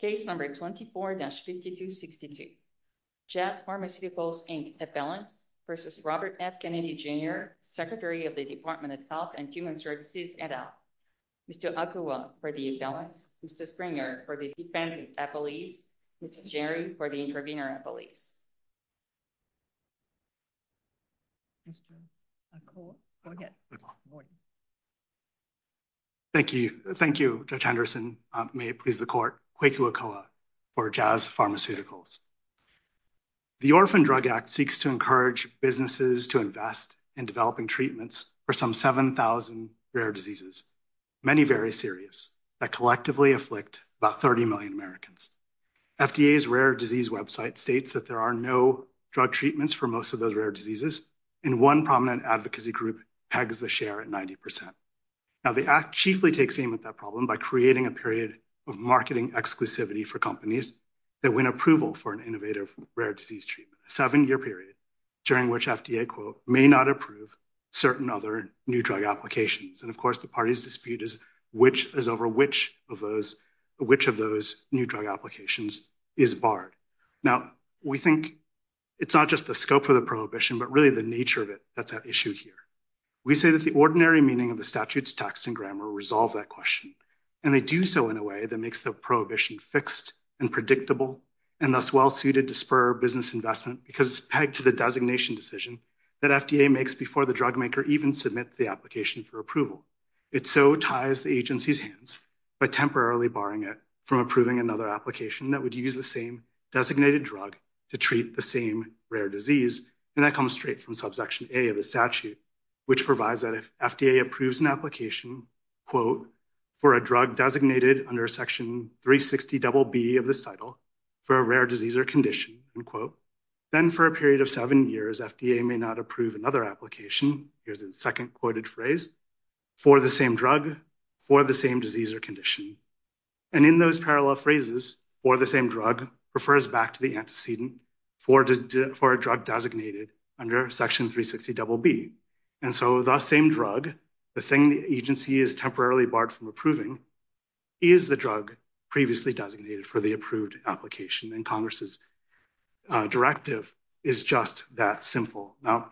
Case number 24-5262. Jeff Pharmaceuticals, Inc. Appellant v. Robert F. Kennedy Jr., Secretary of the Department of Health and Human Services, et al. Mr. Agrawal for the Appellant. Mr. Springer for the Defensive Appellee. Mr. Jerry for the Intervenor Appellee. Thank you. Thank you, Judge Henderson. May it please the Court. Kwaku Akola for Jazz Pharmaceuticals. The Orphan Drug Act seeks to encourage businesses to invest in developing treatments for some 7,000 rare diseases, many very serious, that collectively afflict about 30 million Americans. FDA's rare disease website states that there are no drug treatments for most of those rare diseases, and one prominent advocacy group pegs the share at 90%. Now, the Act chiefly takes aim at that problem by creating a period of marketing exclusivity for companies that win approval for an innovative rare disease treatment, a seven-year period during which FDA, quote, may not approve certain other new drug applications. And, of course, the party's dispute is over which of those new drug applications is barred. Now, we think it's not just the scope of the prohibition, but really the nature of it that's at issue here. We say that the ordinary meaning of the statute's text and grammar resolve that question, and they do so in a way that makes the prohibition fixed and predictable and thus well-suited to spur business investment because it's pegged to the designation decision that FDA makes before the even submit the application for approval. It so ties the agency's hands by temporarily barring it from approving another application that would use the same designated drug to treat the same rare disease, and that comes straight from subsection A of the statute, which provides that if FDA approves an application, quote, for a drug designated under section 360 BB of the title for a rare disease or condition, unquote, then for a period of seven years, FDA may not approve another application. Here's a second quoted phrase, for the same drug, for the same disease or condition. And in those parallel phrases, for the same drug refers back to the antecedent for a drug designated under section 360 BB. And so the same drug, the same agency is temporarily barred from approving, is the drug previously designated for the approved application. And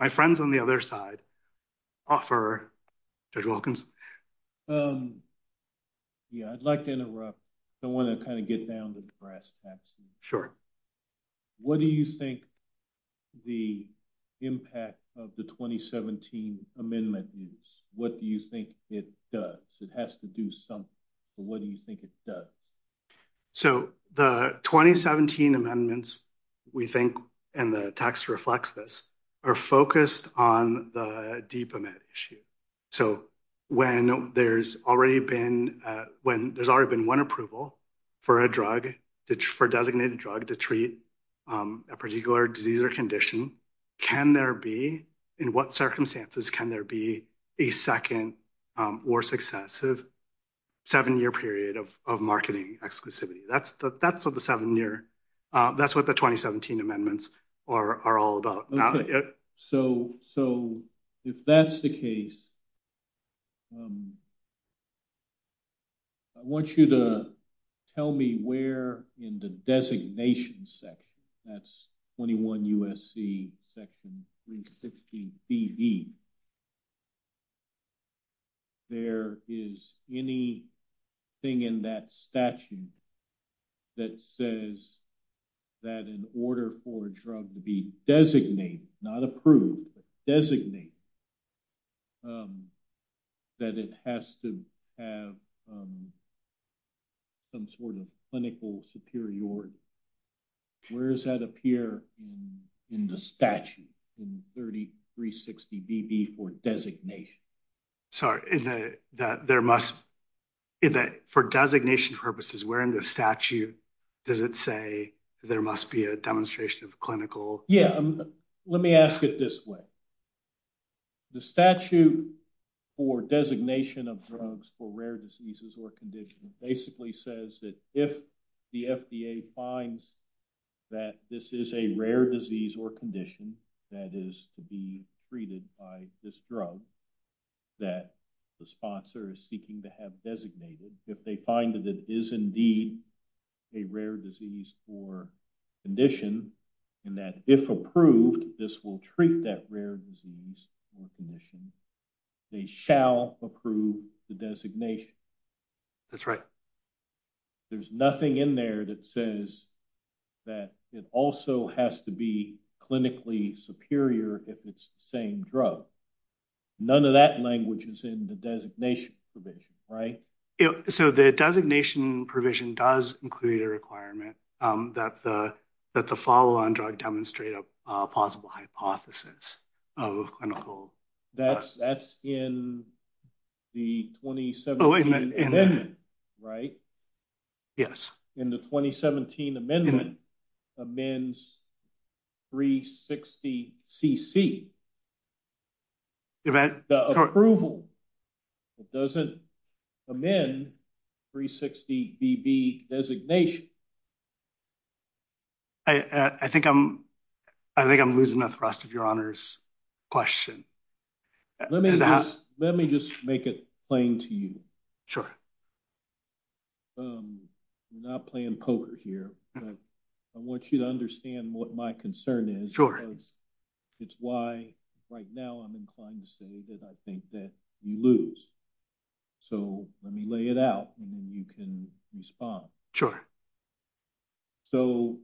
my friends on the other side offer, Judge Wilkins. Yeah, I'd like to interrupt. I want to kind of get down to grass taxing. Sure. What do you think the impact of the 2017 amendment is? What do you think it does? It has to do something, but what do you think it does? So the 2017 amendments, we think, and the text reflects this, are focused on the de-permit issue. So when there's already been, when there's already been one approval for a drug, for a designated drug to treat a particular disease or condition, can there be, in what circumstances can there be a second or successive seven-year period of marketing exclusivity? That's what the seven-year, that's what the 2017 amendments are all about. So if that's the case, I want you to tell me where in the designation section, that's 21 USC section 316 CD, there is anything in that statute that says that in order for a drug to be designated, not approved, but designated, that it has to have some sort of clinical superiority. Where does that appear in the statute in 3360 BB for designation? Sorry, is that there must, for designation purposes, where in the statute does it say there must be a demonstration of clinical? Yeah, let me ask it this way. The statute for designation of drugs for rare diseases or conditions basically says that if the FDA finds that this is a rare disease or condition that is to be treated by this drug that the sponsor is seeking to have designated, if they find that it is indeed a rare disease or condition, and that if approved, this will treat that rare disease or condition, they shall approve the designation. That's right. There's nothing in there that says that it also has to be clinically superior if it's the same drug. None of that language is in the designation provision, right? So the designation provision does include a requirement that the follow-on drug demonstrate a possible hypothesis of clinical. That's in the 2017 amendment, right? Yes. In the 2017 amendment amends 360 CC. The approval, it doesn't amend 360 BB designation. I think I'm losing my thrust of your honors question. Let me just make it plain to you. I'm not playing poker here. I want you to understand what my concern is. Sure. It's why right now I'm inclined to say that I think that we lose. So let me lay it out. And then you can respond. Sure. So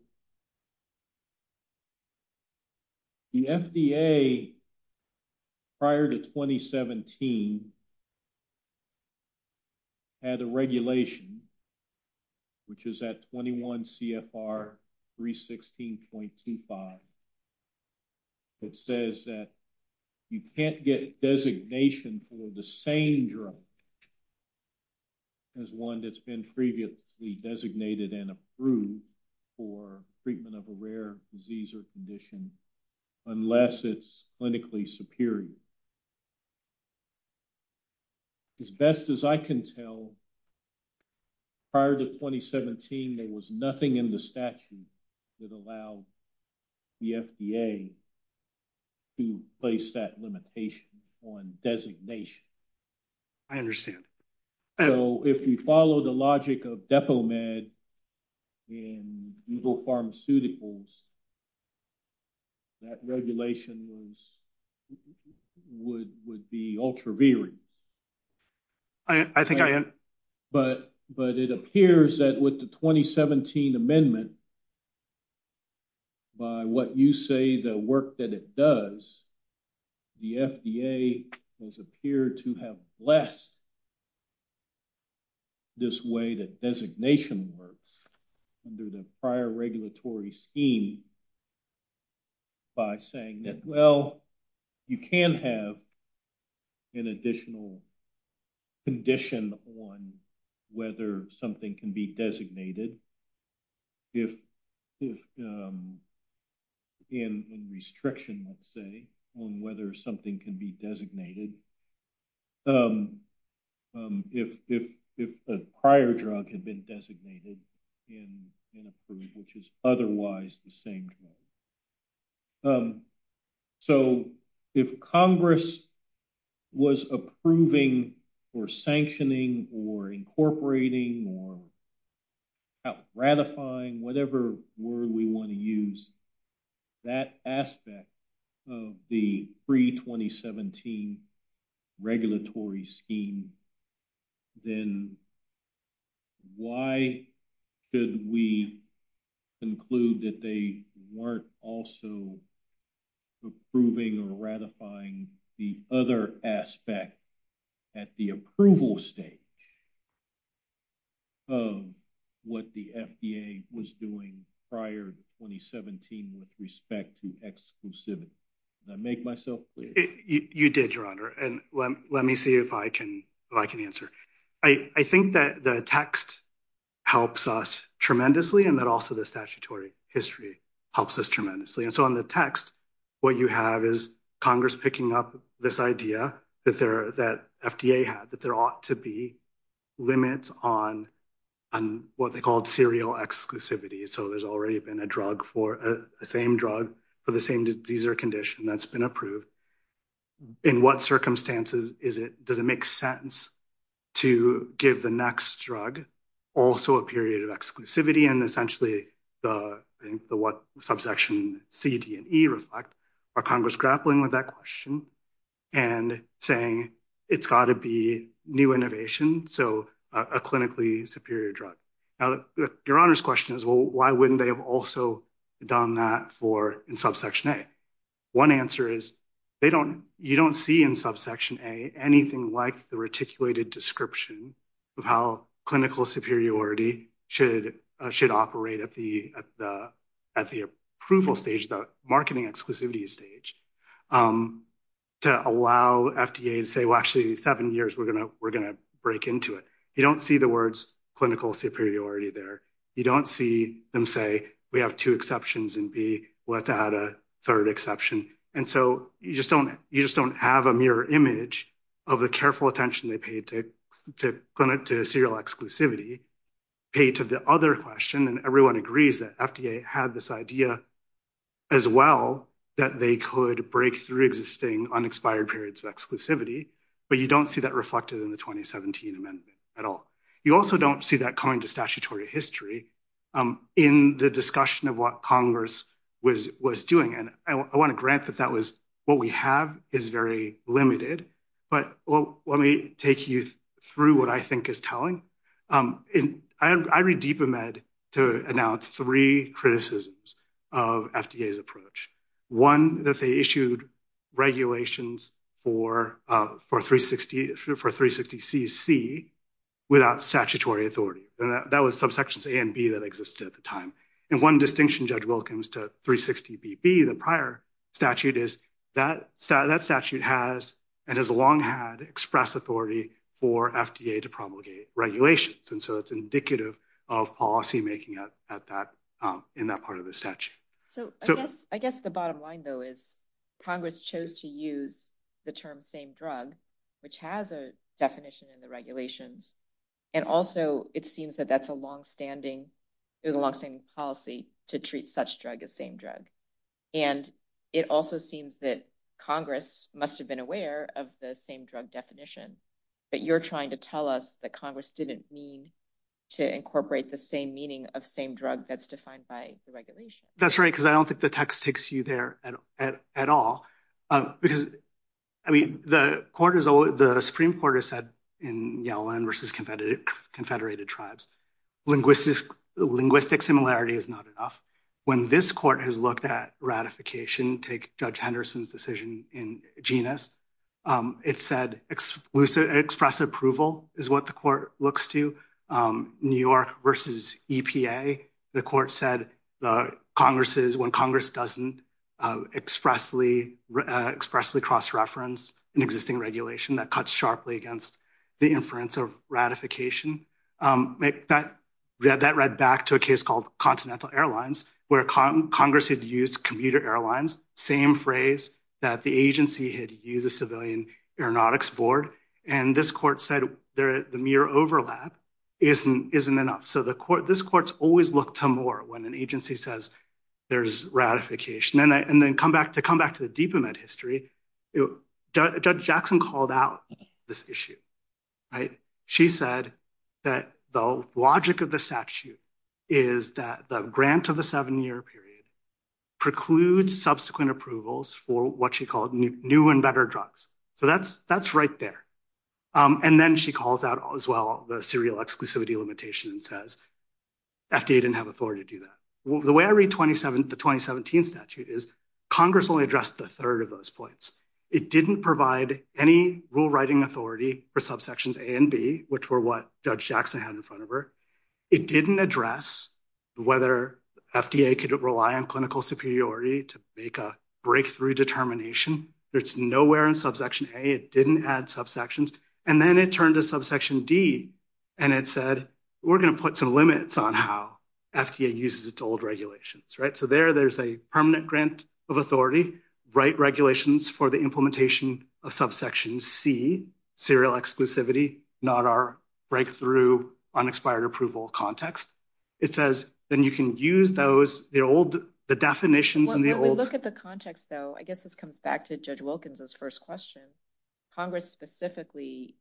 the FDA prior to 2017 had a regulation, which is at 21 CFR 316.25. It says that you can't get designation for the same drug as one that's been previously designated and approved for treatment of a rare disease or condition unless it's clinically superior. As best as I can tell, prior to 2017, there was nothing in the statute that allowed the FDA to place that limitation on designation. I understand. So if we follow the logic of DepoMed in legal pharmaceuticals, that regulation would be ultravehicular. I think I am. But it appears that with the 2017 amendment, by what you say the work that it does, the FDA has appeared to have blessed this way that designation works under the prior regulatory scheme by saying that, well, you can have an additional condition on whether something can be designated if in restriction, let's say, on whether something can be designated if a prior drug had been designated and approved, which is otherwise the same drug. So if Congress was approving or sanctioning or incorporating or outratifying, whatever word we want to use, that aspect of the pre-2017 regulatory scheme, then why did we conclude that they weren't also approving or ratifying the other aspect at the approval stage of what the FDA was doing prior to 2017 with respect to exclusivity? Did I make myself clear? You did, Your Honor. And let me see if I can answer. I think that the text helps us tremendously and that also the statutory history helps us so tremendously. In the text, what you have is Congress picking up this idea that FDA had, that there ought to be limits on what they called serial exclusivity. So there's already been a drug for the same disease or condition that's been approved. In what circumstances does it make sense to give the next drug also a period of exclusivity and essentially what subsection C, D, and E reflect? Are Congress grappling with that question and saying it's got to be new innovation, so a clinically superior drug? Now, Your Honor's question is, well, why wouldn't they have also done that in subsection A? One answer is you don't see in subsection A anything like the reticulated description of how clinical superiority should operate at the approval stage, the marketing exclusivity stage, to allow FDA to say, well, actually, in seven years, we're going to break into it. You don't see the words clinical superiority there. You don't see them say, we have two exceptions in B. We'll have to add a third exception. And so you just don't have a mirror image of the careful attention they paid to clinical exclusivity, paid to the other question. And everyone agrees that FDA had this idea as well that they could break through existing unexpired periods of exclusivity. But you don't see that reflected in the 2017 amendment at all. You also don't see that coming to statutory history in the discussion of what Congress was doing. And I want to grant that that was what we have is very limited. But let me take you through what I think is telling. I read DeepMed to announce three criticisms of FDA's approach. One, that they issued regulations for 360CC without statutory authority. That was subsections A and B that existed at the time. And one distinction, Judge Wilkins, to 360BP, the prior statute, is that statute has and has long had express authority for FDA to promulgate regulations. And so it's indicative of policymaking in that part of the statute. So I guess the bottom line, though, is Congress chose to use the term same drug, which has a definition in the regulations. And also, it seems that that's a longstanding policy to treat such drug as same drug. And it also seems that Congress must have been aware of the same drug definition. But you're trying to tell us that Congress didn't mean to incorporate the same meaning of same drug that's defined by the regulation. That's right, because I don't think the text takes you there at all. Because, I mean, the Supreme Court has said in Yellen versus Confederated Tribes, linguistic similarity is not enough. When this court has looked at ratification, take Judge Henderson's decision in Genis, it said express approval is what the court looks to. New York versus EPA, the court said the Congresses, when Congress doesn't expressly cross-reference an existing regulation that cuts sharply against the inference of ratification. That read back to a case called Continental Airlines, where Congress had used commuter airlines, same phrase that the agency had used the Civilian Aeronautics Board. And this court said the mere overlap isn't enough. So this court's always looked to more when an agency says there's ratification. And then to come back to the deepened history, Judge Jackson called out this issue. She said that the logic of the statute is that the grant of the seven-year period precludes subsequent approvals for what she called new and better drugs. So that's right there. And then she calls out as well the serial exclusivity limitation and says FDA didn't have authority to do that. The way I read the 2017 statute is Congress only addressed the third of those points. It didn't provide any rule-writing authority for subsections A and B, which were what Judge Jackson had in front of her. It didn't address whether FDA could rely on clinical superiority to make a breakthrough determination. It's nowhere in subsection A. It didn't add subsections. And then it turned to subsection D, and it said, we're going to put some limits on how FDA uses its old regulations. Right? So there, there's a permanent grant of authority, right regulations for the implementation of subsection C, serial exclusivity, not our breakthrough unexpired approval context. It says, then you can use those, the old, the definitions and the old- When we look at the context, though, I guess this comes back to Judge Wilkins' first question. Congress specifically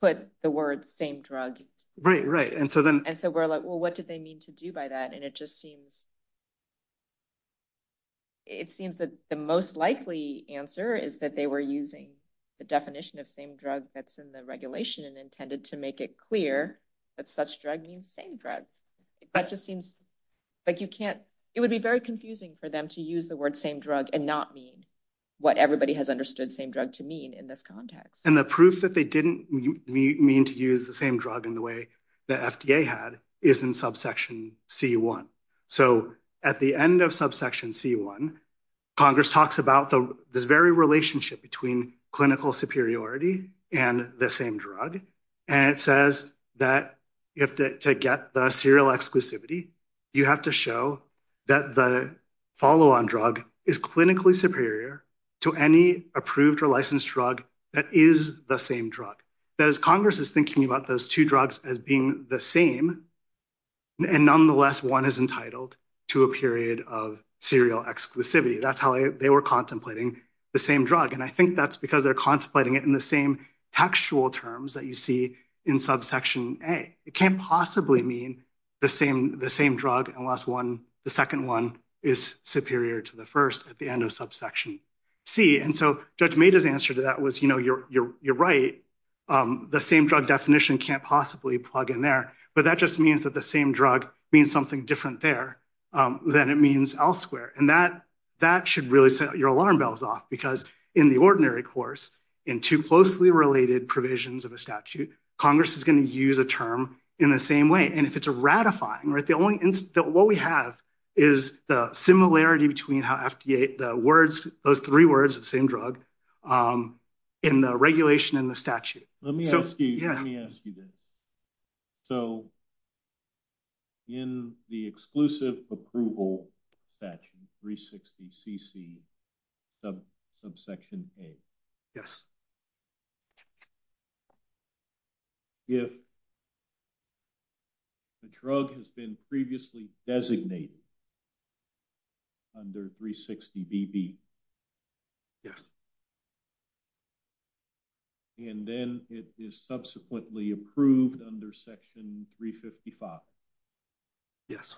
put the word same drug. Right, right. And so we're like, well, what did they mean to do by that? And it just seems, it seems that the most likely answer is that they were using the definition of same drug that's in the regulation and intended to make it clear that such drug means same drug. That just seems like you can't, it would be very confusing for them to use the word same drug and not mean what everybody has understood same drug to mean in this context. And the proof that they didn't mean to use the same drug in the way the FDA had is in subsection C1. So at the end of subsection C1, Congress talks about the very relationship between clinical superiority and the same drug. And it says that if to get the serial exclusivity, you have to show that the follow-on drug is clinically superior to any approved or licensed drug that is the same drug. As Congress is thinking about those two drugs as being the same, and nonetheless, one is entitled to a period of serial exclusivity. That's how they were contemplating the same drug. And I think that's because they're contemplating it in the same textual terms that you see in subsection A. It can't possibly mean the same drug unless the second one is superior to the first at the end of subsection C. And so Judge Maida's answer to that was, you're right. The same drug definition can't possibly plug in there. But that just means that the same drug means something different there than it means elsewhere. And that should really set your alarm bells off. Because in the ordinary course, in two closely related provisions of a statute, Congress is going to use a term in the same way. And if it's ratifying, what we have is the similarity between how FDA, the words, those three words, the same drug, in the regulation in the statute. Let me ask you this. So in the exclusive approval statute, 360 CC, subsection A. Yes. If the drug has been previously designated under 360 BB. Yes. And then it is subsequently approved under section 355. Yes.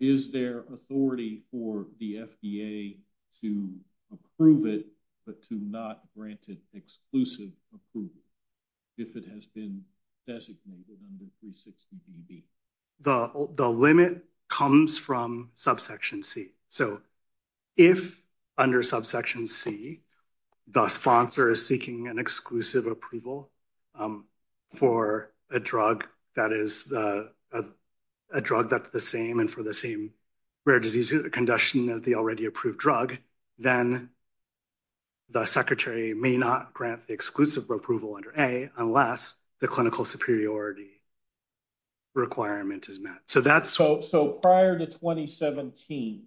Is there authority for the FDA to approve it, but to not grant it exclusive approval if it has been designated under 360 BB? The limit comes from subsection C. So if under subsection C, the sponsor is seeking an exclusive approval for a drug that is the same and for the same rare disease conditioning of the already approved drug, then the secretary may not grant the exclusive approval under A unless the clinical superiority requirement is met. So prior to 2017,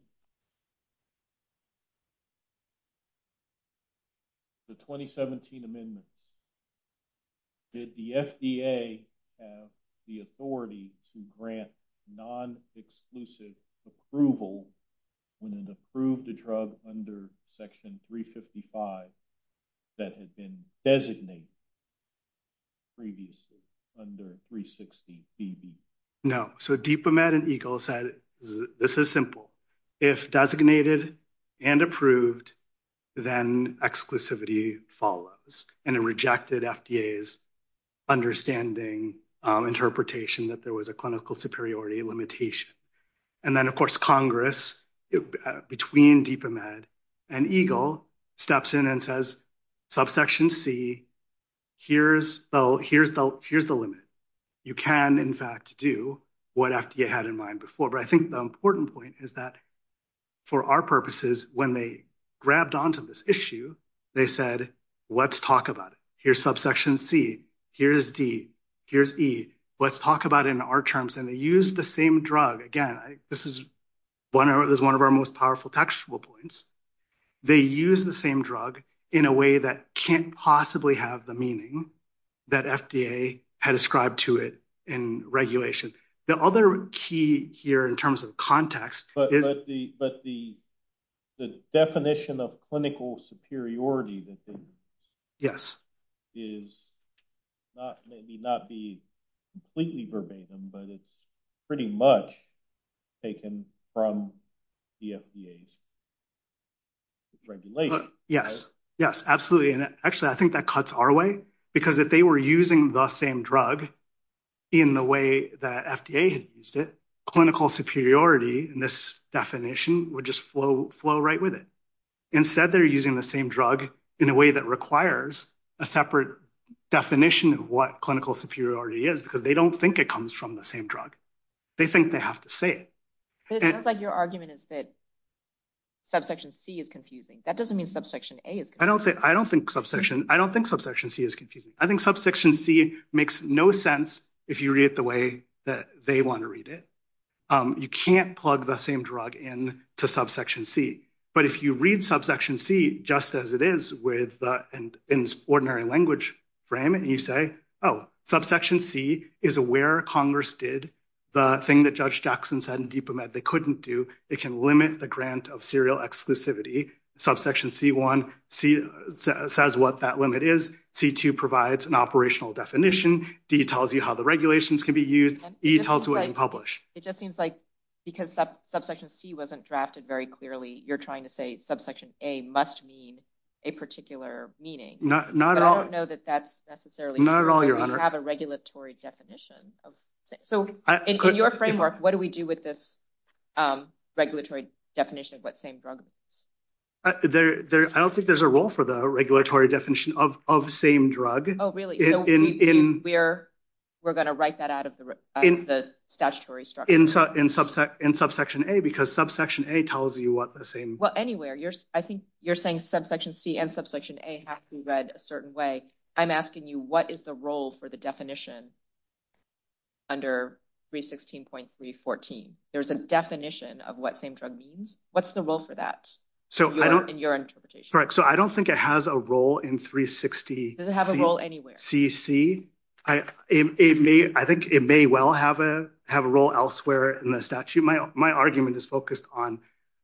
the 2017 amendment, did the FDA have the authority to grant non-exclusive approval when it approved a drug under section 355 that had been designated previously under 360 BB? No. So DPAMED and EGLE said, this is simple. If designated and approved, then exclusivity follows. And it rejected FDA's understanding, interpretation that there was a clinical superiority limitation. And then, of course, Congress, between DPAMED and EGLE, steps in and says, subsection C, here's the limit. You can, in fact, do what FDA had in mind before. But I think the important point is that, for our purposes, when they grabbed onto this issue, they said, let's talk about it. Here's subsection C. Here's D. Here's E. Let's talk about it in our terms. And they used the same drug. Again, this is one of our most powerful tactical points. They used the same drug in a way that can't possibly have the meaning that FDA had ascribed to it in regulation. The other key here, in terms of context, is- But the definition of clinical superiority that this is- Yes. Is maybe not be completely verbatim, but it's pretty much taken from the FDA's regulation. Yes. Yes, absolutely. Actually, I think that cuts our way. Because if they were using the same drug in the way that FDA had used it, clinical superiority in this definition would just flow right with it. Instead, they're using the same drug in a way that requires a separate definition of what clinical superiority is, because they don't think it comes from the same drug. They think they have to say it. It sounds like your argument is that subsection C is confusing. That doesn't mean subsection A is confusing. I don't think subsection C is confusing. I think subsection C makes no sense if you read it the way that they want to read it. You can't plug the same drug in to subsection C. But if you read subsection C just as it is with an ordinary language frame, and you say, oh, subsection C is where Congress did the thing that Judge Jackson said in DEPAMED they couldn't do, it can limit the grant of serial exclusivity. Subsection C1 says what that limit is. C2 provides an operational definition. D tells you how the regulations can be used. E tells you when to publish. It just seems like because subsection C wasn't drafted very clearly, you're trying to say subsection A must mean a particular meaning. Not at all. But I don't know that that's necessarily true. Not at all, Your Honor. We don't have a regulatory definition. So in your framework, what do we do with this regulatory definition of what same drug? I don't think there's a role for the regulatory definition of same drug. Oh, really? We're going to write that out of the statutory structure. In subsection A, because subsection A tells you what the same— Well, anywhere. I think you're saying subsection C and subsection A have to be read a certain way. I'm asking you, what is the role for the definition under 316.314? There's a definition of what same drug means. What's the role for that in your interpretation? Correct. So I don't think it has a role in 360— Does it have a role anywhere? CC. I think it may well have a role elsewhere in the statute. My argument is focused on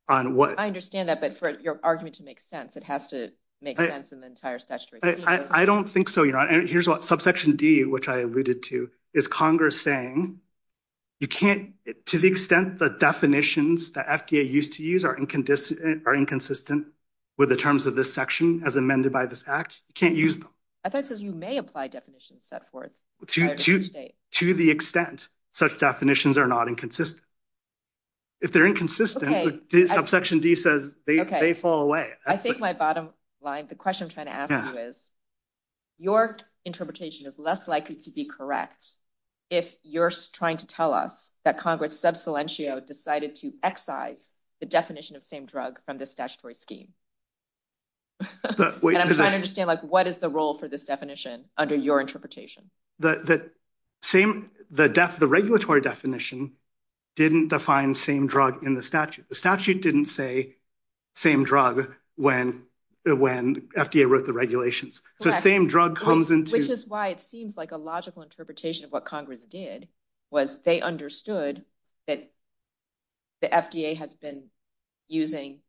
what— I understand that. But for your argument to make sense, it has to make sense in the entire statute. I don't think so. Here's what subsection D, which I alluded to, is Congress saying, you can't—to the extent the definitions that FDA used to use are inconsistent with the terms of this section as amended by this act, you can't use— FDA says you may apply definitions set forth by the state. To the extent such definitions are not inconsistent. If they're inconsistent, subsection D says they fall away. I think my bottom line, the question I'm trying to ask you is, your interpretation is less likely to be correct if you're trying to tell us that Congress sub salientio decided to excise the definition of same drug from the statutory scheme. I'm trying to understand what is the role for this definition under your interpretation? The regulatory definition didn't define same drug in the statute. The statute didn't say same drug when FDA wrote the regulations. The same drug comes into— Which is why it seems like a logical interpretation of what Congress did was they understood that the FDA has been using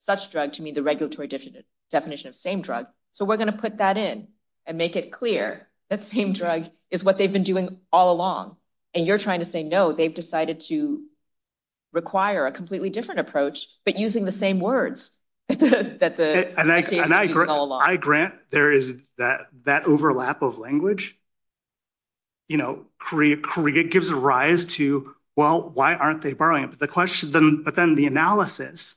such drug to mean the regulatory definition of same drug. So we're going to put that in and make it clear that same drug is what they've been doing all along. And you're trying to say, no, they've decided to require a completely different approach, but using the same words that the FDA has been using all along. I grant there is that overlap of language. It gives rise to, well, why aren't they borrowing it? But then the analysis,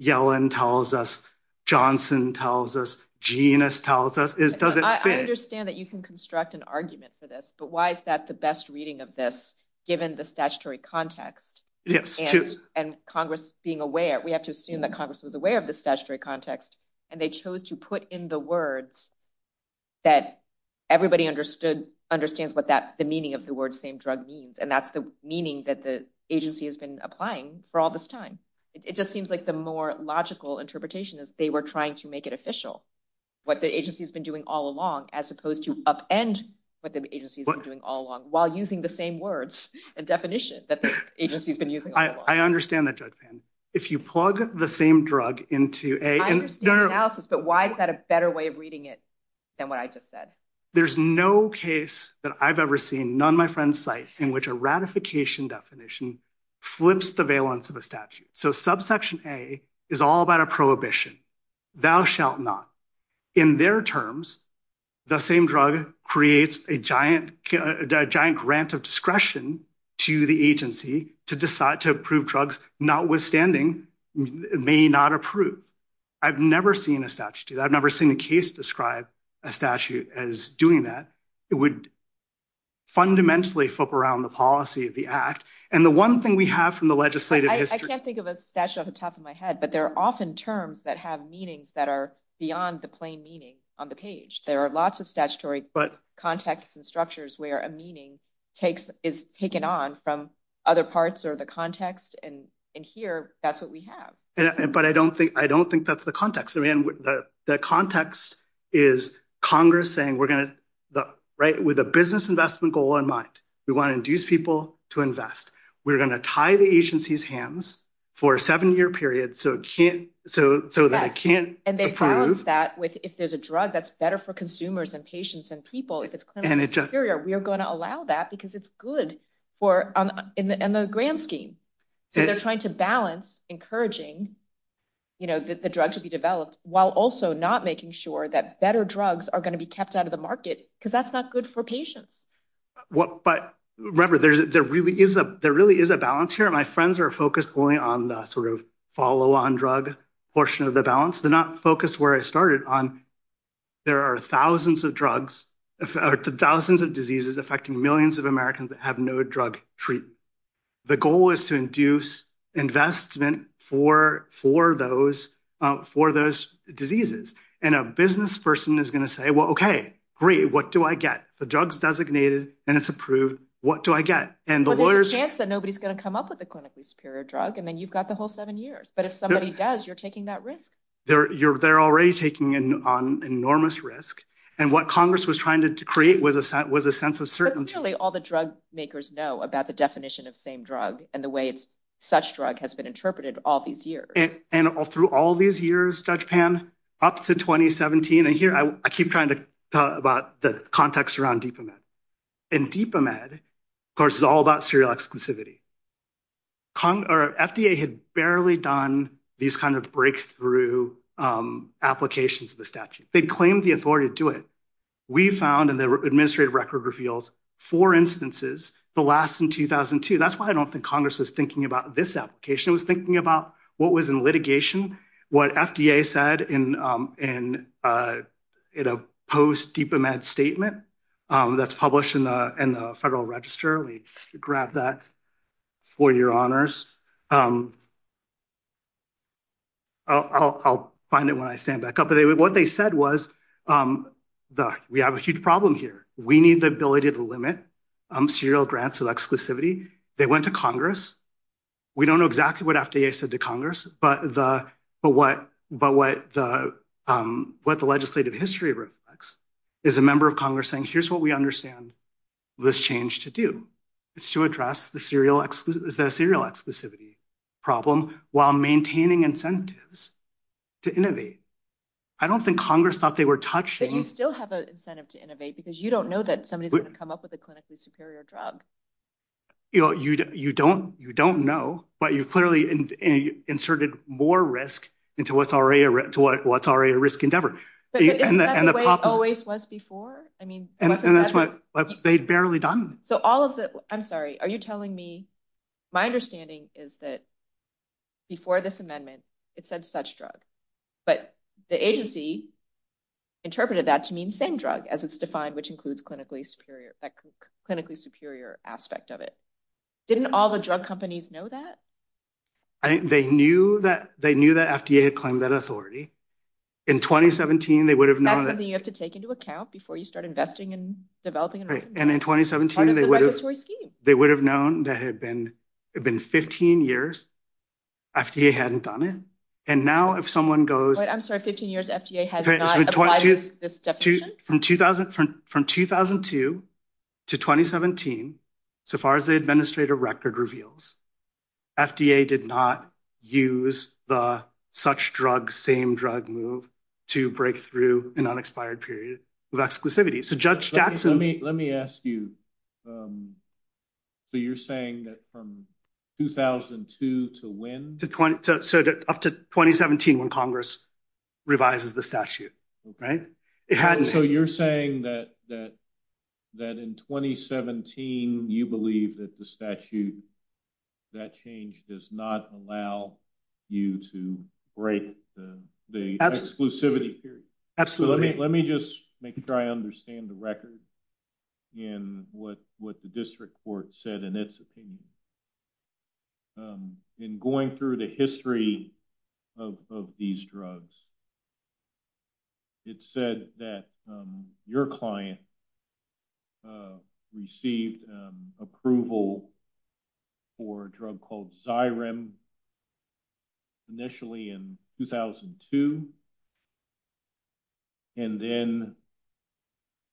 Yellen tells us, Johnson tells us, Genis tells us, does it fit? I understand that you can construct an argument for this. But why is that the best reading of this, given the statutory context? And Congress being aware, we have to assume that Congress was aware of the statutory context, and they chose to put in the words that everybody understands what the meaning of the word same drug means. And that's the meaning that the agency has been applying for all this time. It just seems like the more logical interpretation is they were trying to make it official. What the agency's been doing all along, as opposed to upend what the agency's been doing all along, while using the same words and definition that the agency's been using all along. I understand that, Joyceanne. If you plug the same drug into a- I understand the analysis, but why is that a better way of reading it than what I just said? There's no case that I've ever seen, none of my friends' sites, in which a ratification definition flips the valence of a statute. So subsection A is all about a prohibition. Thou shalt not. In their terms, the same drug creates a giant grant of discretion to the agency to decide to approve drugs notwithstanding may not approve. I've never seen a statute. I've never seen a case describe a statute as doing that. It would fundamentally flip around the policy of the act. And the one thing we have from the legislative- I can't think of a statute off the top of my head, but there are often terms that have meanings that are beyond the plain meaning on the page. There are lots of statutory contexts and structures where a meaning is taken on from other parts or the context, and here, that's what we have. But I don't think that's the context. I mean, the context is Congress saying we're going to- with a business investment goal in mind, we want to induce people to invest. We're going to tie the agency's hands for a seven-year period so that it can't approve. And they balance that with if there's a drug that's better for consumers and patients and people, if it's clinically superior, we're going to allow that because it's good in the grand scheme. They're trying to balance encouraging the drug to be developed while also not making sure that better drugs are going to be kept out of the market because that's not good for patients. But remember, there really is a balance here. My friends are focused only on the sort of follow-on drug portion of the balance. They're not focused where I started on there are thousands of drugs or thousands of diseases affecting millions of Americans that have no drug treatment. The goal is to induce investment for those diseases. And a business person is going to say, well, okay, great. What do I get? The drug's designated and it's approved. What do I get? And there's a chance that nobody's going to come up with a clinically superior drug. And then you've got the whole seven years. But if somebody does, you're taking that risk. They're already taking an enormous risk. And what Congress was trying to create was a sense of certainty. But really all the drug makers know about the definition of same drug and the way such drug has been interpreted all these years. And all through all these years, Judge Pan, up to 2017. And here, I keep trying to talk about the context around DPIMED. And DPIMED, of course, is all about serial exclusivity. FDA had barely done these kind of breakthrough applications of the statute. They claimed the authority to do it. We found in the administrative record reveals four instances, the last in 2002. That's why I don't think Congress was thinking about this application. It was thinking about what was in litigation. What FDA said in a post-DPIMED statement that's published in the Federal Register. Let me grab that for your honors. I'll find it when I stand back up. What they said was, we have a huge problem here. We need the ability to limit serial grants of exclusivity. They went to Congress. We don't know exactly what FDA said to Congress. But what the legislative history reflects is a member of Congress saying, here's what we understand this change to do. It's to address the serial exclusivity problem while maintaining incentives to innovate. I don't think Congress thought they were touching. But you still have an incentive to innovate because you don't know that somebody's going to come up with a clinically superior drug. You know, you don't know. But you clearly inserted more risk into what's already a risk endeavor. And that's what they've barely done. I'm sorry. Are you telling me, my understanding is that before this amendment, it said such drugs. But the agency interpreted that to mean same drug as it's defined, which includes that clinically superior aspect of it. Didn't all the drug companies know that? They knew that FDA had claimed that authority. In 2017, they would have known that. That's something you have to take into account before you start investing in developing. And in 2017, they would have known that had it been 15 years, FDA hadn't done it. And now if someone goes. I'm sorry, 15 years, FDA has not applied this definition? From 2002 to 2017, so far as the administrative record reveals, FDA did not use the such drug, same drug move to break through an unexpired period of exclusivity. So Judge Jackson. Let me ask you, so you're saying that from 2002 to when? So up to 2017 when Congress revises the statute, right? So you're saying that in 2017, you believe that the statute, that change does not allow you to break the exclusivity period? Absolutely. Let me just make sure I understand the record in what the district court said in its opinion. In going through the history of these drugs, it said that your client received approval for a drug called Xyrem initially in 2002. And then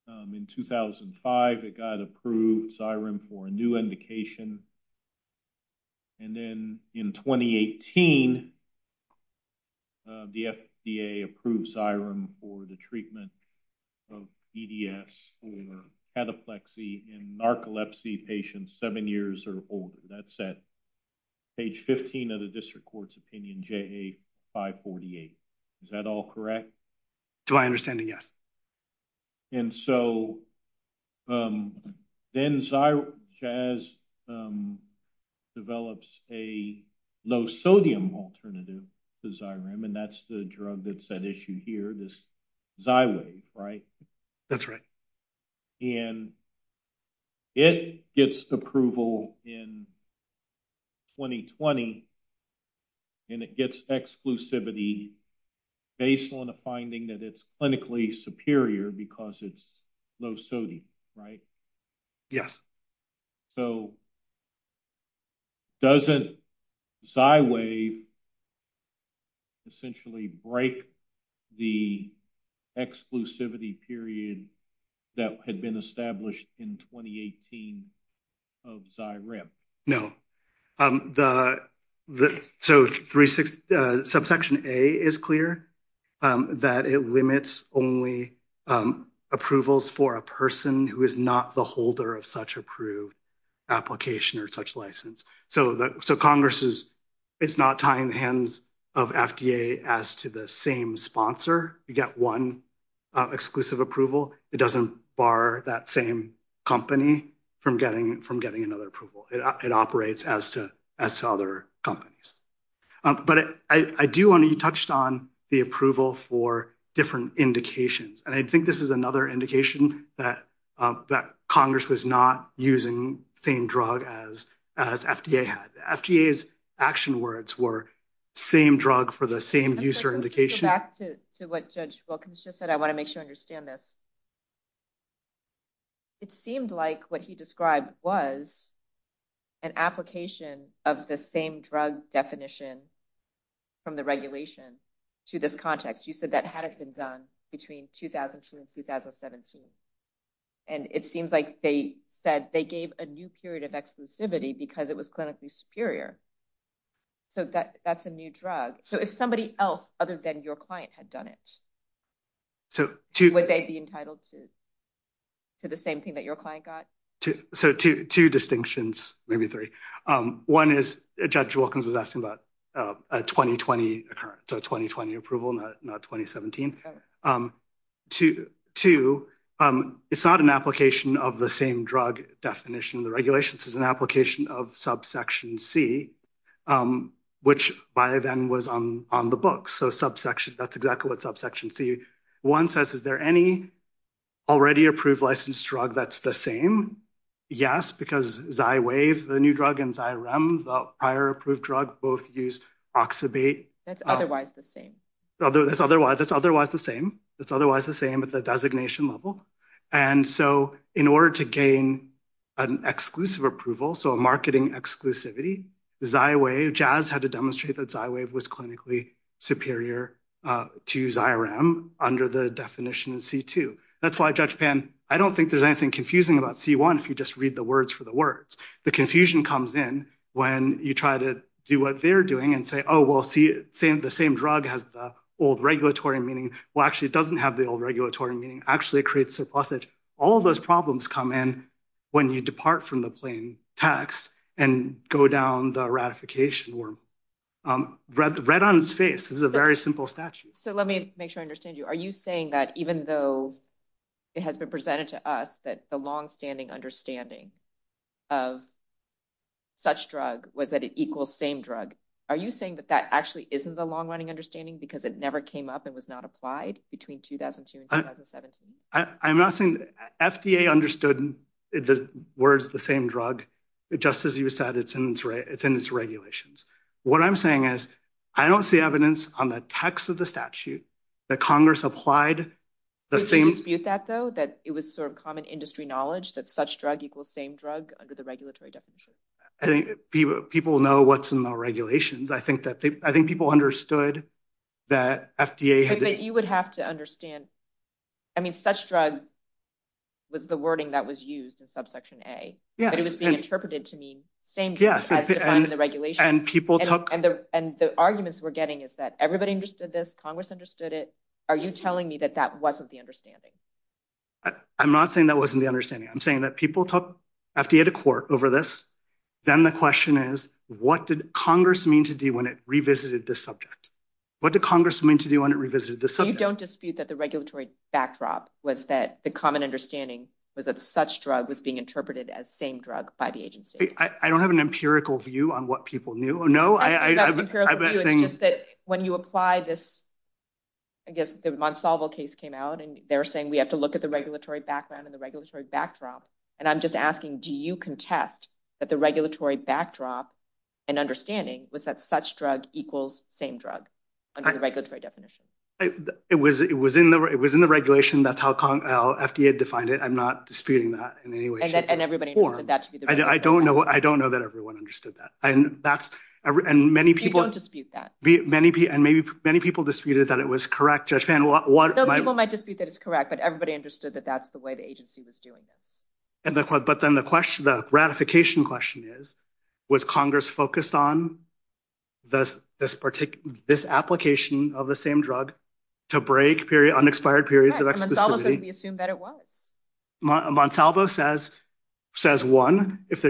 in 2005, it got approved Xyrem for a new indication and then in 2018, the FDA approved Xyrem for the treatment of EDS or cataplexy in narcolepsy patients seven years or older. That's at page 15 of the district court's opinion, JA 548. Is that all correct? To my understanding, yes. And so then Xyrem develops a low sodium alternative to Xyrem and that's the drug that's at issue here, this Xywave, right? That's right. And it gets approval in 2020 and it gets exclusivity based on a finding that it's superior because it's low sodium, right? Yes. So doesn't Xywave essentially break the exclusivity period that had been established in 2018 of Xyrem? No. So subsection A is clear that it limits only approvals for a person who is not the holder of such approved application or such license. So Congress is not tying the hands of FDA as to the same sponsor. You get one exclusive approval. It doesn't bar that same company from getting another approval. It operates as to other companies. But I do want to touch on the approval for different indications. And I think this is another indication that Congress was not using the same drug as FDA had. FDA's action words were same drug for the same use or indication. Back to what Judge Wilkins just said. I want to make sure you understand this. It seemed like what he described was an application of the same drug definition from the regulation to this context. You said that had it been done between 2002 and 2017. And it seems like they said they gave a new period of exclusivity because it was clinically superior. So that's a new drug. So if somebody else other than your client had done it, would they be entitled to the same thing that your client got? So two distinctions, maybe three. One is, Judge Wilkins was asking about a 2020 approval, not 2017. Two, it's not an application of the same drug definition. The regulations is an application of subsection C, which Biovan was on the book. So that's exactly what subsection C. One says, is there any already approved licensed drug that's the same? Yes, because Zywave, the new drug, and Zyrem, the prior approved drug, both used Proxibate. That's otherwise the same. That's otherwise the same. It's otherwise the same at the designation level. And so in order to gain an exclusive approval, so a marketing exclusivity, the Zywave, Jazz had to demonstrate that Zywave was clinically superior to Zyrem under the definition of C2. That's why, Judge Pan, I don't think there's anything confusing about C1 if you just read the words for the words. The confusion comes in when you try to do what they're doing and say, oh, well, the same drug has the old regulatory meaning. Well, actually, it doesn't have the old regulatory meaning. Actually, it creates surplusage. All of those problems come in when you depart from the plain text and go down the ratification form, right on its face. This is a very simple statute. So let me make sure I understand you. Are you saying that even though it has been presented to us that the longstanding understanding of such drug was that it equals same drug, are you saying that that actually isn't the long-running understanding because it never came up and was not applied between 2002 and 2017? I'm not saying that. FDA understood the words the same drug. Just as you said, it's in its regulations. What I'm saying is I don't see evidence on the text of the statute that Congress applied the same- Would you dispute that, though, that it was sort of common industry knowledge that such drug equals same drug under the regulatory definition? I think people know what's in the regulations. I think that people understood that FDA- You would have to understand. I mean, such drug, the wording that was used in subsection A, it was being interpreted to mean same drug as defined in the regulation. And the arguments we're getting is that everybody understood this. Congress understood it. Are you telling me that that wasn't the understanding? I'm not saying that wasn't the understanding. I'm saying that people took FDA to court over this. Then the question is, what did Congress mean to do when it revisited this subject? What did Congress mean to do when it revisited this subject? You don't dispute that the regulatory backdrop was that the common understanding was that such drug was being interpreted as same drug by the agency. I don't have an empirical view on what people knew. No, I've been saying- When you apply this, I guess the Monsalvo case came out, and they were saying we have to look at the regulatory background and the regulatory backdrop. And I'm just asking, do you contest that the regulatory backdrop and understanding was that such drug equals same drug under the regulatory definition? It was in the regulation. That's how FDA defined it. I'm not disputing that in any way, shape, or form. And everybody understood that to be the- I don't know that everyone understood that. And many people- You don't dispute that. And many people disputed that it was correct, Judge Mann. Some people might dispute that it's correct, but everybody understood that that's the way the agency was doing it. But then the question, the ratification question is, was Congress focused on this application of the same drug to break unexpired periods of exclusivity? Yeah, Monsalvo could assume that it was. Monsalvo says one, if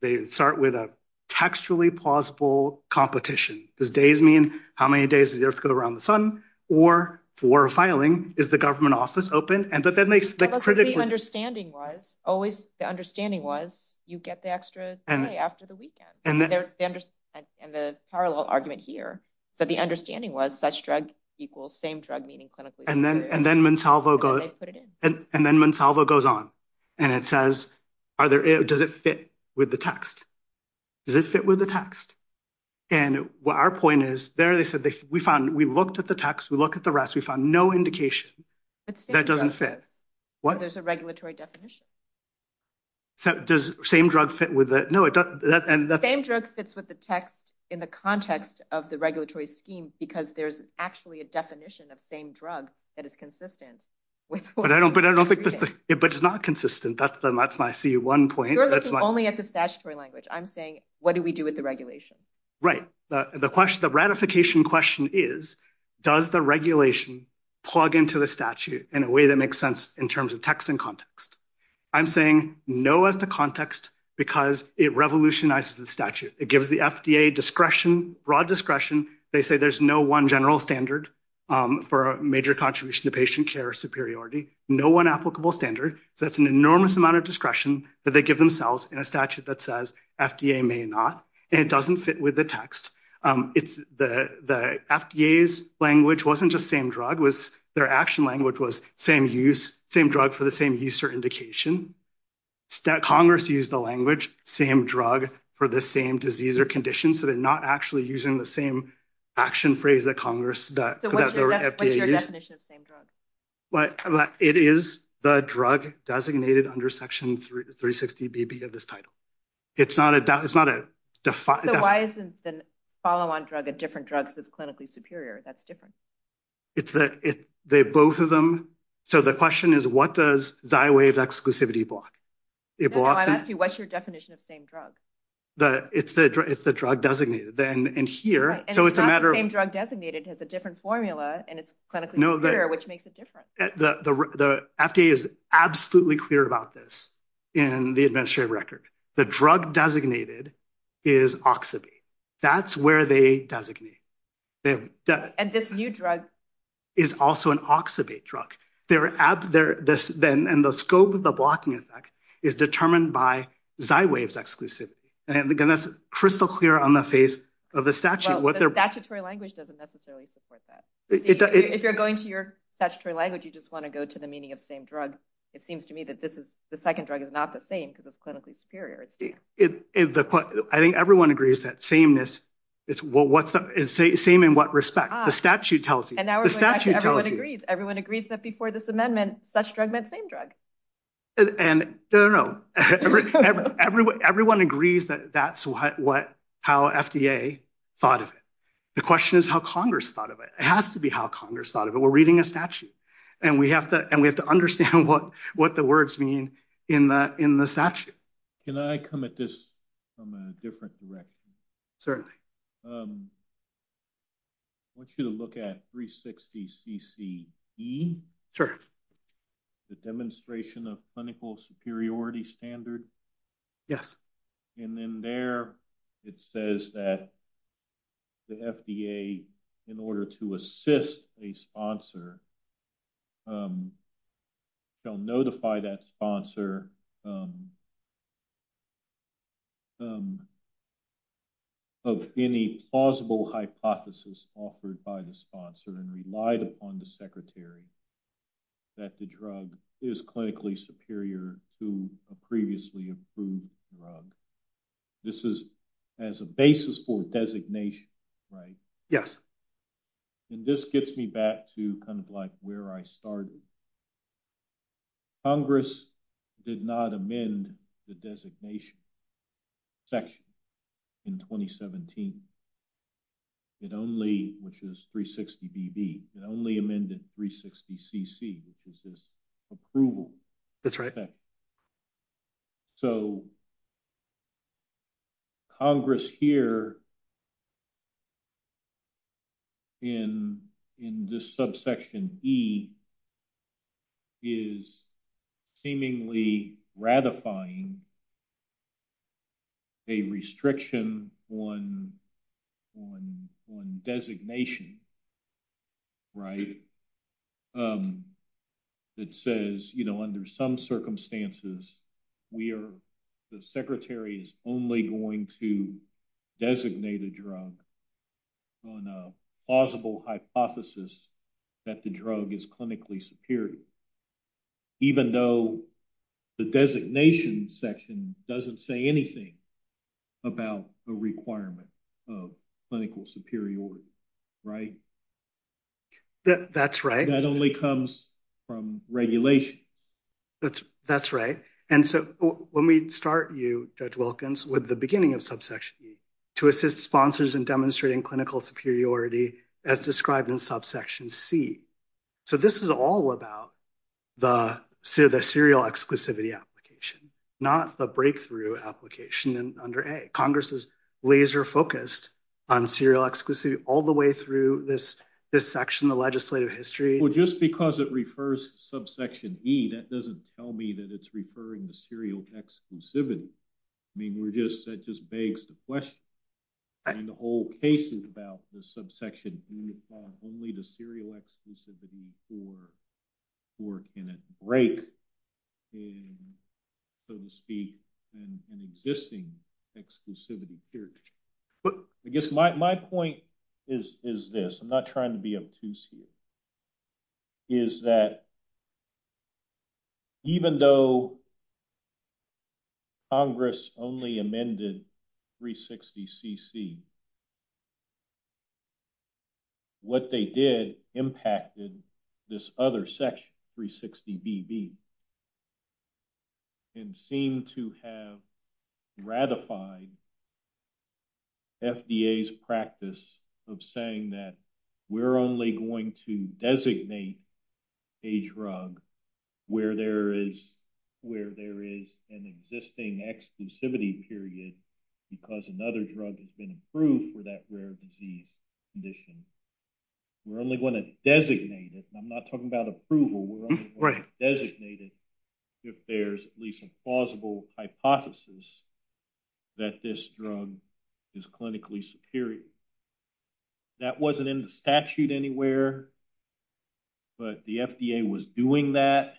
they start with a textually plausible competition. Does days mean how many days does the earth go around the sun? Or for filing, is the government office open? And then they- The understanding was, you get the extra day after the weekend. And the parallel argument here, that the understanding was such drug equals same drug, meaning clinically- And then Monsalvo goes on. And it says, does it fit with the text? Does it fit with the text? And what our point is, there they said, we looked at the text. We looked at the rest. We found no indication that doesn't fit. What? There's a regulatory definition. Does same drug fit with it? No, it doesn't. And the- Same drug fits with the text in the context of the regulatory scheme, because there's actually a definition of same drug that is consistent with- But I don't think that- But it's not consistent. That's my C1 point. You're looking only at the statutory language. I'm saying, what do we do with the regulation? Right. The question, the ratification question is, does the regulation plug into the statute in a way that makes sense in terms of text and context? I'm saying no as the context, because it revolutionizes the statute. It gives the FDA discretion, broad discretion. They say there's no one general standard for a major contribution to patient care or superiority. No one applicable standard. So that's an enormous amount of discretion that they give themselves in a statute that says FDA may not. And it doesn't fit with the text. It's the FDA's language wasn't just same drug. Their action language was same use, same drug for the same use or indication. Congress used the language, same drug for the same disease or condition. So they're not actually using the same action phrase that Congress- So what's your definition of same drug? It is the drug designated under Section 360 BB of this title. It's not a defined- So why isn't the follow-on drug a different drug that's clinically superior? That's different. It's that they both of them. So the question is, what does XyWave exclusivity block? So I'm asking, what's your definition of same drug? It's the drug designated. Then in here- And it's not the same drug designated. It's a different formula, and it's clinically superior, which makes a difference. The FDA is absolutely clear about this in the advanced shared record. The drug designated is OxyB. That's where they designate. And this new drug- Is also an OxyB drug. And the scope of the blocking effect is determined by XyWave's exclusivity. And that's crystal clear on the face of the statute. Well, the statutory language doesn't necessarily support that. If you're going to your statutory language, you just want to go to the meaning of same drug. It seems to me that the second drug is not the same because it's clinically superior. It's the point. I think everyone agrees that sameness is what's the same in what respect? The statute tells you. And now everyone agrees. Everyone agrees that before this amendment, such drug meant same drug. And everyone agrees that that's how FDA thought of it. The question is how Congress thought of it. It has to be how Congress thought of it. We're reading a statute, and we have to understand what the words mean in the statute. Can I come at this from a different direction? Certainly. I want you to look at 360 CCE. Sure. The demonstration of clinical superiority standards. Yes. And then there, it says that the FDA, in order to assist a sponsor, shall notify that sponsor of any plausible hypothesis offered by the sponsor and relied upon the secretary that the drug is clinically superior to a previously approved drug. This is as a basis for designation, right? Yes. And this gets me back to kind of like where I started. Congress did not amend the designation section in 2017. It only, which is 360 BB, it only amended 360 CC, which is this approval. That's right. Okay. So Congress here in this subsection E is seemingly ratifying a restriction on designation, right? It says, you know, under some circumstances, we are, the secretary is only going to designate a drug on a plausible hypothesis that the drug is clinically superior, even though the designation section doesn't say anything about a requirement of clinical superiority, right? Yeah, that's right. That only comes from regulation. That's right. And so when we start you, Judge Wilkins, with the beginning of subsection E, to assist sponsors in demonstrating clinical superiority as described in subsection C. So this is all about the serial exclusivity application, not the breakthrough application under A. Congress is laser focused on serial exclusivity all the way through this section, the legislative history. Well, just because it refers to subsection E, that doesn't tell me that it's referring to serial exclusivity. I mean, we're just, that just begs the question. I mean, the whole case is about the subsection E on only the serial exclusivity or can it break, so to speak, an existing exclusivity period. But I guess my point is this, I'm not trying to be obtuse here, is that even though Congress only amended 360 CC, what they did impacted this other section, 360 BB, and seemed to have ratified FDA's practice of saying that we're only going to designate a drug where there is an existing exclusivity period because another drug has been added. Approved for that rare disease condition. We're only going to designate it. I'm not talking about approval. We're only going to designate it if there's at least a plausible hypothesis that this drug is clinically superior. That wasn't in the statute anywhere, but the FDA was doing that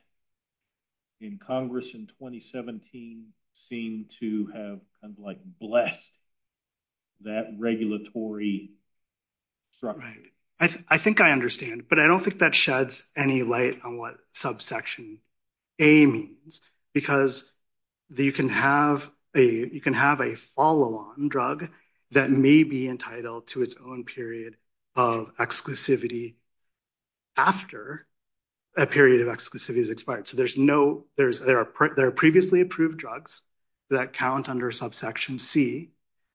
in Congress in 2017, seemed to have kind of like blessed that regulatory structure. I think I understand, but I don't think that sheds any light on what subsection A means, because you can have a follow-on drug that may be entitled to its own period of exclusivity after a period of exclusivity is expired. There are previously approved drugs that count under subsection C,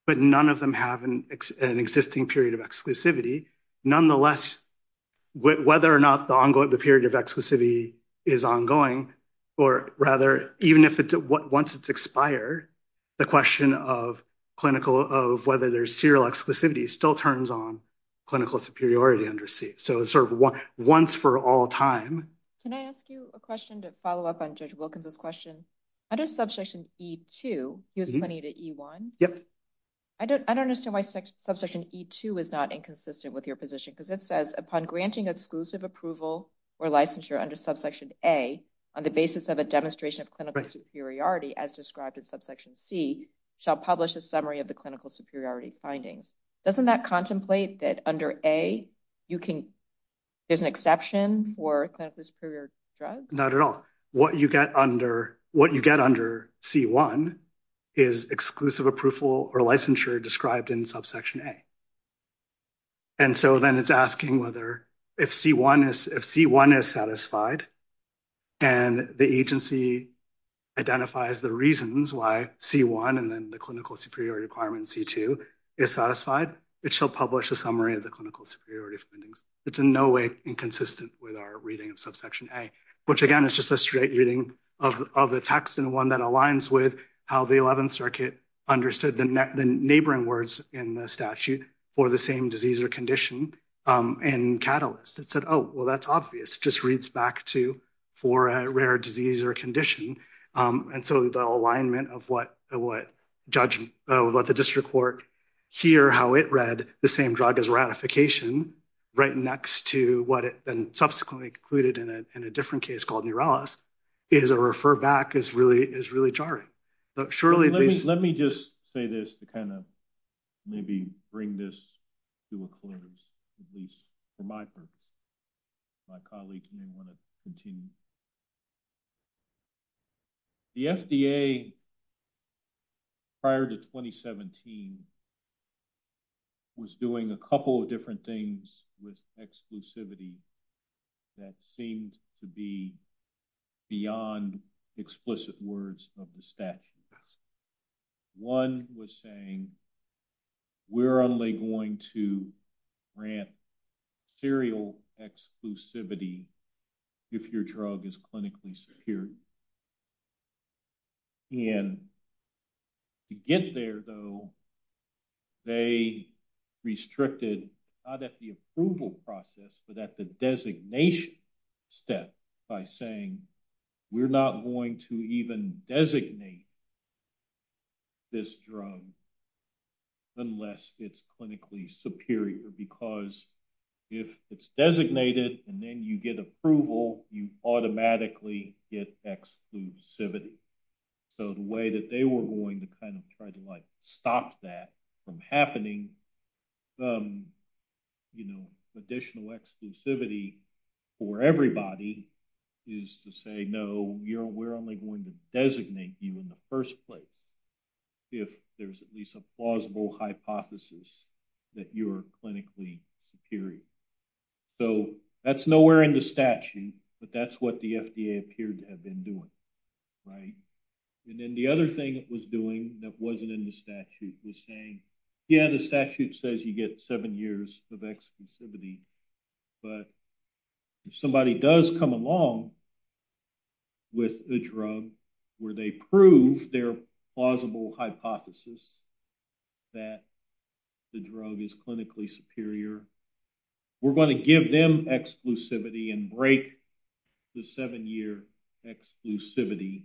but none of them have an existing period of exclusivity. Nonetheless, whether or not the period of exclusivity is ongoing, or rather, even once it's expired, the question of whether there's serial exclusivity still turns on clinical superiority under C. So it's sort of once for all time. Can I ask you a question to follow up on Judge Wilkins' question? Under subsection E2, he was pointing to E1. I don't understand why subsection E2 is not inconsistent with your position, because it says, upon granting exclusive approval or licensure under subsection A on the basis of a demonstration of clinical superiority, as described in subsection C, shall publish a summary of the clinical superiority findings. Doesn't that contemplate that under A, there's an exception for clinical superiority drugs? Not at all. What you get under C1 is exclusive approval or licensure described in subsection A. And so then it's asking whether, if C1 is satisfied, and the agency identifies the reasons why C1 and then the clinical superiority requirement C2 is satisfied, it shall publish a summary of the clinical superiority findings. It's in no way inconsistent with our reading of subsection A, which, again, is just a straight reading of the text and one that aligns with how the 11th Circuit understood the neighboring words in the statute for the same disease or condition and catalyst. It said, oh, well, that's obvious. It just reads back to for a rare disease or condition. And so the alignment of what the district court here, how it read the same drug as ratification right next to what it then subsequently concluded in a different case called Neuralis is a refer back is really jarring. Let me just say this to kind of maybe bring this to a close, at least for my purpose. My colleagues may want to continue. The FDA, prior to 2017, was doing a couple of different things with exclusivity that seemed to be beyond explicit words of the statute. One was saying we're only going to grant serial exclusivity if your drug is clinically superior. And to get there, though, they restricted not at the designate this drug unless it's clinically superior, because if it's designated and then you get approval, you automatically get exclusivity. So the way that they were going to kind of try to stop that from happening, additional exclusivity for everybody is to say, we're only going to designate you in the first place if there's at least a plausible hypothesis that you're clinically superior. So that's nowhere in the statute, but that's what the FDA appeared to have been doing. And then the other thing it was doing that wasn't in the statute was saying, yeah, the statute says you get seven years of exclusivity, but if somebody does come along, with a drug, where they prove their plausible hypothesis that the drug is clinically superior, we're going to give them exclusivity and break the seven-year exclusivity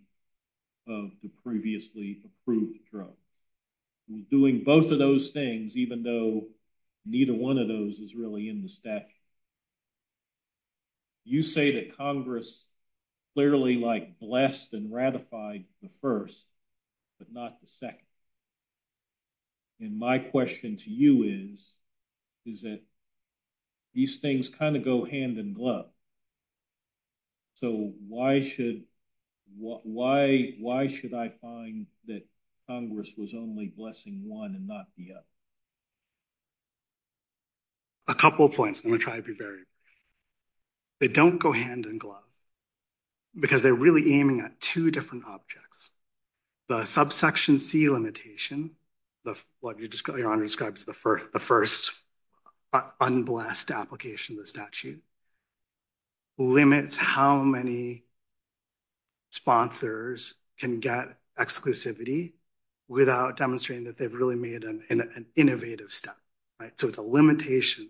of the previously approved drug. Doing both of those things, even though neither one of those is really in the blessed and ratified the first, but not the second. And my question to you is, is that these things kind of go hand in glove. So why should I find that Congress was only blessing one and not the other? A couple of points, and we try to be very specific. They don't go hand in glove because they're really aiming at two different objects. The subsection C limitation, what your Honor described as the first unblessed application of the statute, limits how many sponsors can get exclusivity without demonstrating that they've really made an innovative step. So it's a limitation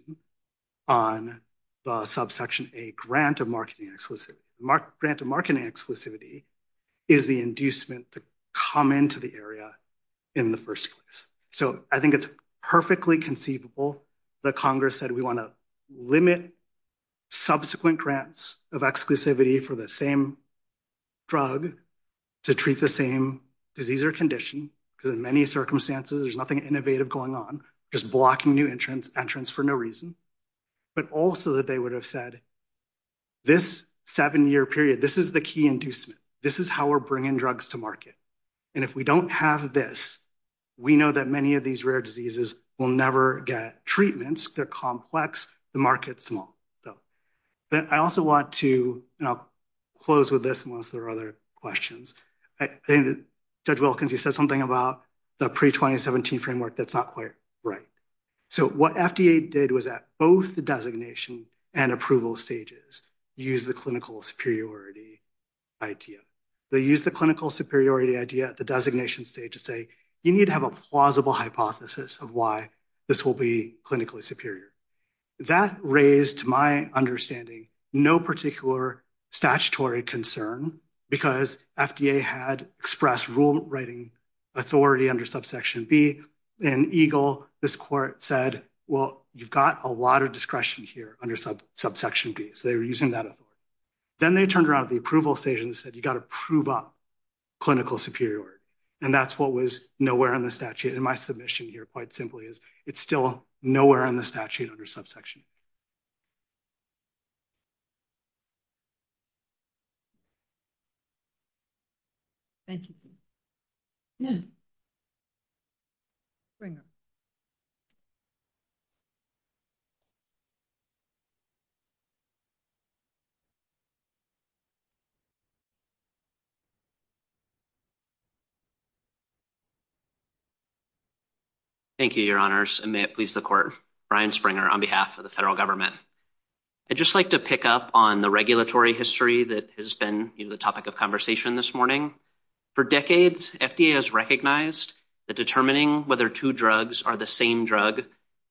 on the subsection A grant of marketing exclusivity. Grant of marketing exclusivity is the inducement to come into the area in the first place. So I think it's perfectly conceivable that Congress said we want to limit subsequent grants of exclusivity for the same drug to treat the same disease or condition because in many circumstances, there's nothing innovative going on, just blocking new entrants for no reason. But also that they would have said this seven-year period, this is the key inducement. This is how we're bringing drugs to market. And if we don't have this, we know that many of these rare diseases will never get treatments. They're complex. The market's small. But I also want to close with other questions. Judge Wilkins, you said something about the pre-2017 framework that's not quite right. So what FDA did was at both the designation and approval stages, use the clinical superiority idea. They used the clinical superiority idea at the designation stage to say, you need to have a plausible hypothesis of why this will be clinically superior. That raised to my understanding, no particular statutory concern because FDA had expressed rule writing authority under subsection B. And EGLE, this court, said, well, you've got a lot of discretion here under subsection B. So they were using that. Then they turned around the approval stage and said, you got to prove up clinical superiority. And that's what was nowhere on the statute. And my submission here, quite simply, is it's still nowhere on the statute under subsection B. Thank you. Thank you, your honors. And may it please the court, Brian Springer, on behalf of the federal government. I'd just like to pick up on the regulatory history that has been the topic of conversation this morning. For decades, FDA has recognized that determining whether two drugs are the same drug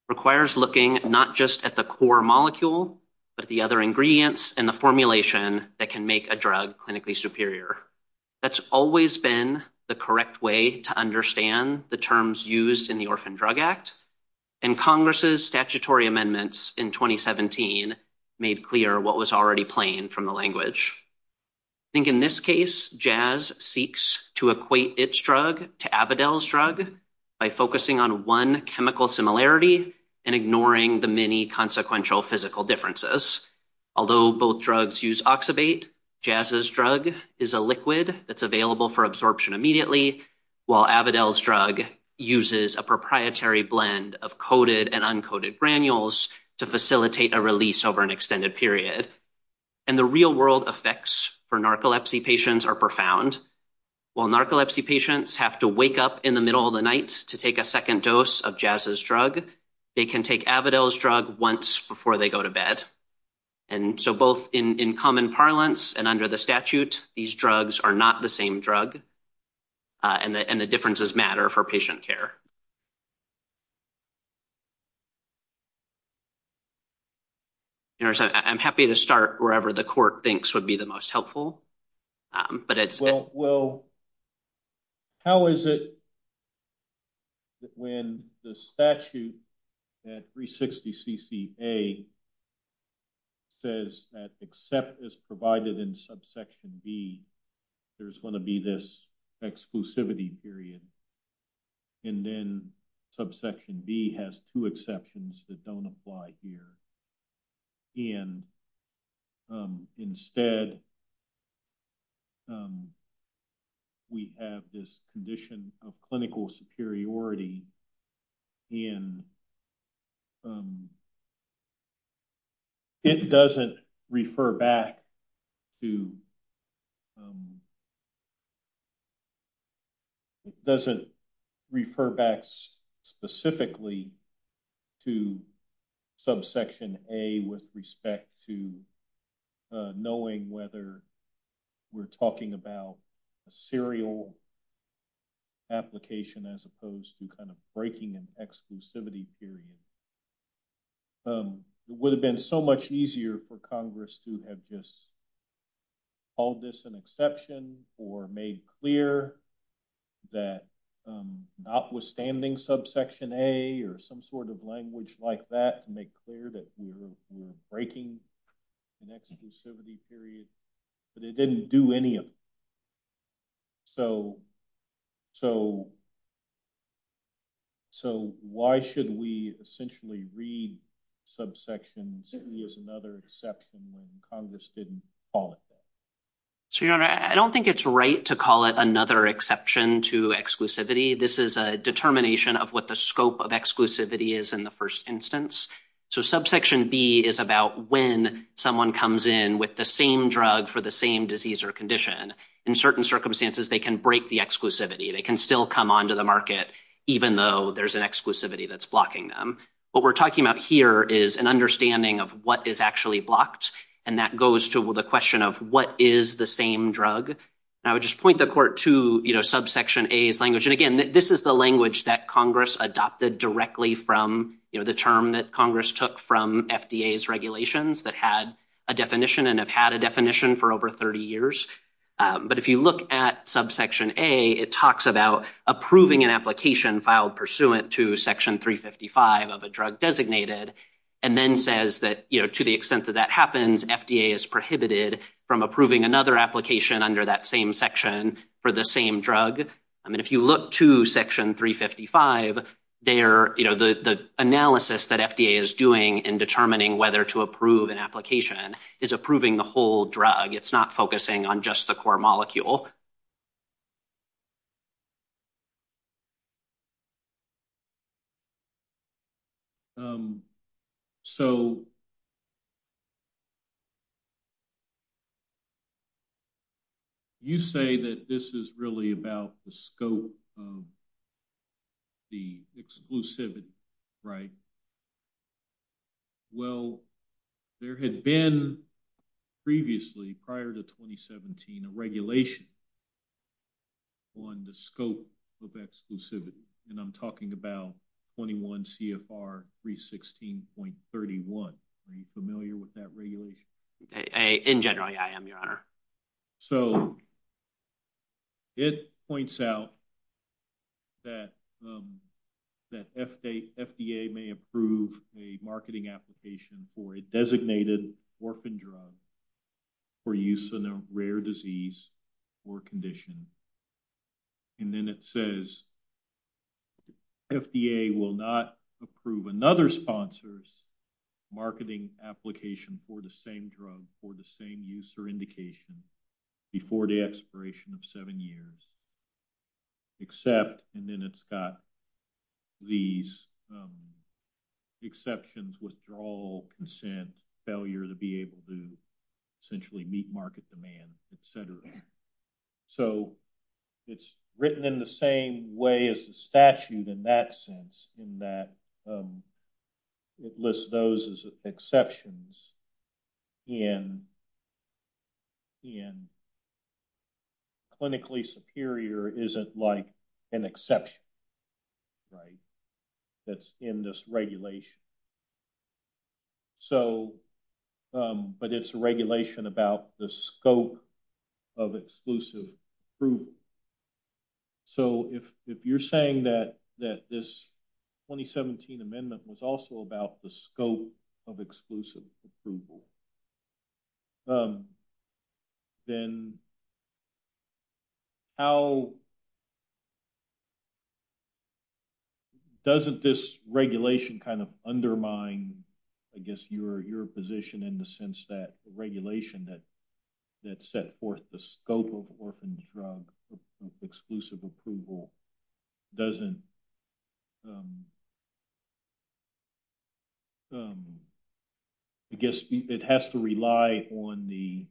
requires looking not just at the core molecule, but the other ingredients and the formulation that can make a drug clinically superior. That's always been the correct way to understand the terms used in the Orphan Drug Act. And Congress's statutory amendments in 2017 made clear what was already plain from the language. I think in this case, Jazz seeks to equate its drug to Avidel's drug by focusing on one chemical similarity and ignoring the many consequential physical differences. Although both drugs use Oxybate, Jazz's drug is a liquid that's available for absorption immediately, while Avidel's drug uses a proprietary blend of coated and uncoated granules to facilitate a release over an extended period. And the real world effects for narcolepsy patients are profound. While narcolepsy patients have to wake up in the middle of the night to take a second dose of Jazz's drug, they can take Avidel's drug once before they go to bed. And so both in common parlance and under the statute, these drugs are not the same drug and the differences matter for patient care. I'm happy to start wherever the court thinks would be the most helpful. Well, how is it when the statute at 360 CCA says that except as provided in subsection B, there's going to be this exclusivity period. And then subsection B has two exceptions that don't apply here. And instead, instead, we have this condition of clinical superiority in... It doesn't refer back to... It doesn't refer back specifically to subsection A with respect to knowing whether we're talking about a serial application as opposed to kind of breaking an exclusivity period. It would have been so much easier for Congress to have just called this an exception or made clear that notwithstanding subsection A or some sort of language like that and make clear that we're breaking an exclusivity period, but it didn't do any of that. So why should we essentially read subsection C as another exception and Congress didn't call it that? So your honor, I don't think it's right to call it another exception to exclusivity. This is a determination of what the scope of exclusivity is in the first instance. So subsection B is about when someone comes in with the same drug for the same disease or condition. In certain circumstances, they can break the exclusivity. They can still come onto the market even though there's an exclusivity that's blocking them. What we're talking about is an understanding of what is actually blocked and that goes to the question of what is the same drug. I would just point the court to subsection A's language. Again, this is the language that Congress adopted directly from the term that Congress took from FDA's regulations that had a definition and have had a definition for over 30 years. But if you look at subsection A, it talks about approving an application filed pursuant to section 355 of a drug designated and then says that to the extent that that happens, FDA is prohibited from approving another application under that same section for the same drug. I mean, if you look to section 355, the analysis that FDA is doing in determining whether to approve an application is approving the whole drug. It's not focusing on just the core molecule. You say that this is really about the scope of the exclusivity, right? Well, there had been previously, prior to 2017, a regulation on the scope of exclusivity and I'm talking about 21 CFR 316.31. Are you familiar with that in general? Yeah, I am, your honor. So it points out that FDA may approve a marketing application for a designated orphan drug for use in a rare disease or condition. And then it says that FDA will not approve another sponsor's marketing application for the same drug for the same use or indication before the expiration of seven years, except, and then it's got these exceptions, withdrawal, consent, failure to be able to essentially meet market demand, et cetera. So it's written in the same way as the statute in that sense, in that it lists those as exceptions and clinically superior isn't like an exception, right? That's in this regulation. But it's a regulation about the scope of exclusive approval. So if you're saying that this 2017 amendment was also about the scope of exclusive approval, then how doesn't this regulation kind of undermine, I guess, your position in the sense that the regulation that set forth the scope of orphan drugs with exclusive approval doesn't, doesn't, I guess it has to rely on the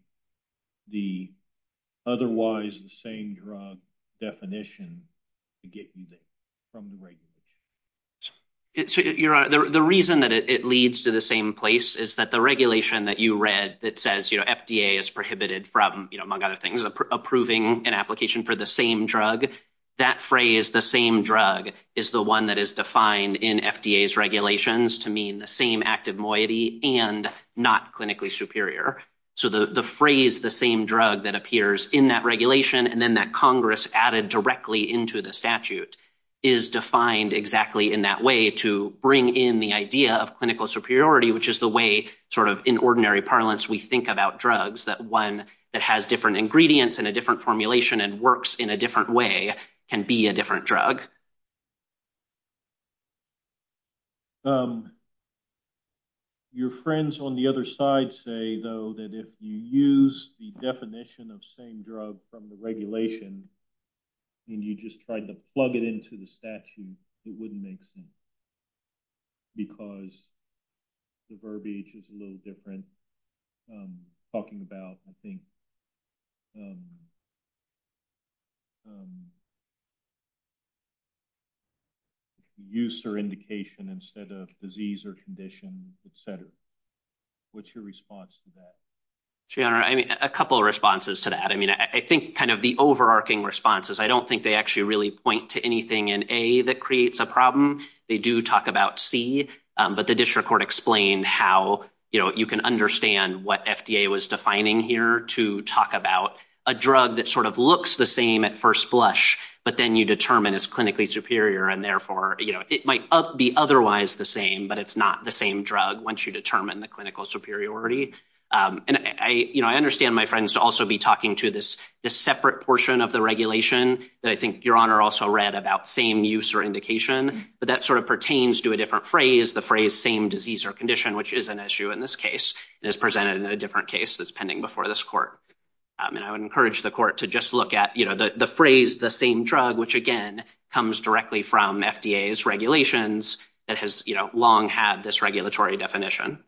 otherwise the same drug definition to get you there from the regulation? Your honor, the reason that it leads to the same place is that the regulation that you read that says FDA is prohibited from, among other things, approving an application for the same drug, that phrase, the same drug is the one that is defined in FDA's regulations to mean the same active moiety and not clinically superior. So the phrase, the same drug that appears in that regulation, and then that Congress added directly into the statute is defined exactly in that way to bring in the idea of clinical superiority, which is the way sort of in ordinary parlance, we think about drugs that one that has different ingredients in a different formulation and works in a different way can be a different drug. Your friends on the other side say, though, that if you use the definition of same drug from the regulation and you just tried to plug it into the statute, it wouldn't make sense because the verbiage is a little different. Talking about, I think, use or indication instead of disease or condition, et cetera. What's your response to that? Your honor, I mean, a couple of responses to that. I mean, I think kind of the overarching response is I don't think they actually really point to anything in A that creates a problem. They do talk about C, but the district court explained how, you know, you can understand what FDA was defining here to talk about a drug that sort of looks the same at first blush, but then you determine it's clinically superior, and therefore, you know, it might be otherwise the same, but it's not the same drug once you determine the clinical superiority. And I, you know, I understand my friends to also be talking to this separate portion of the regulation that I think your honor also read about same use or indication, but that sort of pertains to a different phrase, the phrase same disease or condition, which is an issue in this case. It is presented in a different case that's pending before this court. And I would encourage the court to just look at, you know, the phrase, the same drug, which again comes directly from FDA's regulations that has, you know, long had this regulatory definition.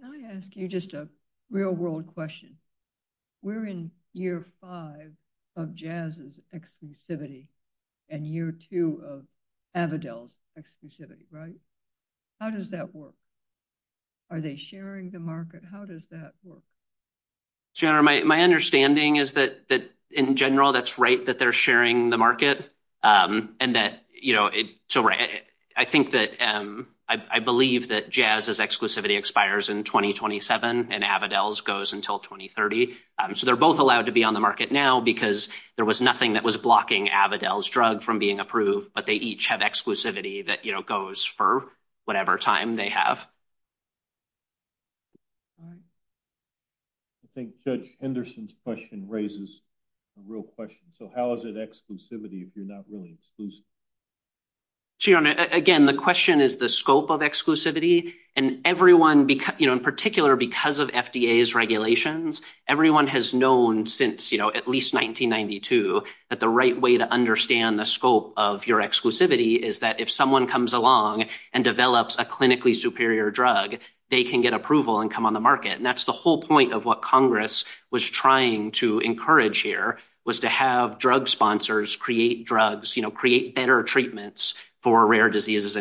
Can I ask you just a real world question? We're in year five of Jazz's exclusivity and year two Avidel's exclusivity, right? How does that work? Are they sharing the market? How does that work? Sure. My understanding is that in general, that's right, that they're sharing the market and that, you know, I think that I believe that Jazz's exclusivity expires in 2027 and Avidel's goes until 2030. So they're both allowed to be on the market now because there was nothing that was blocking Avidel's drug from being approved, but they each have exclusivity that, you know, goes for whatever time they have. I think Judge Henderson's question raises a real question. So how is it exclusivity if you're not really exclusive? Again, the question is the scope of exclusivity and everyone, you know, in particular, because FDA's regulations, everyone has known since, you know, at least 1992, that the right way to understand the scope of your exclusivity is that if someone comes along and develops a clinically superior drug, they can get approval and come on the market. And that's the whole point of what Congress was trying to encourage here was to have drug sponsors, create drugs, you know, create better treatments for rare diseases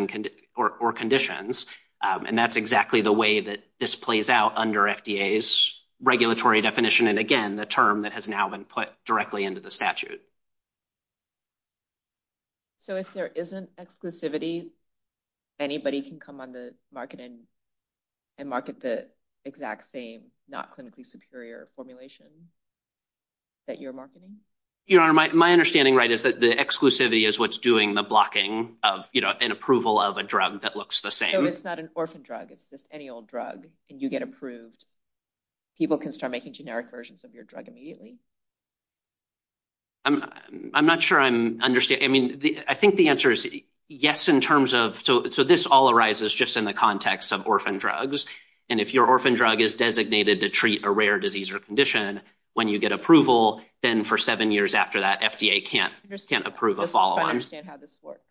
or conditions. And that's exactly the way that this plays out under FDA's regulatory definition. And again, the term that has now been put directly into the statute. So if there isn't exclusivity, anybody can come on the market and market the exact same not clinically superior formulation that you're marketing? Your Honor, my understanding, right, is that the exclusivity is what's doing the blocking of, you know, an approval of a drug that looks the same. So it's not an orphan drug. It's just any old drug and you get approved. People can start making generic versions of your drug immediately? I'm not sure I'm understanding. I mean, I think the answer is yes, in terms of, so this all arises just in the context of orphan drugs. And if your orphan drug is designated to treat a rare disease or condition, when you get approval, then for seven years after that, FDA can't approve a follow-on. I don't understand how this works.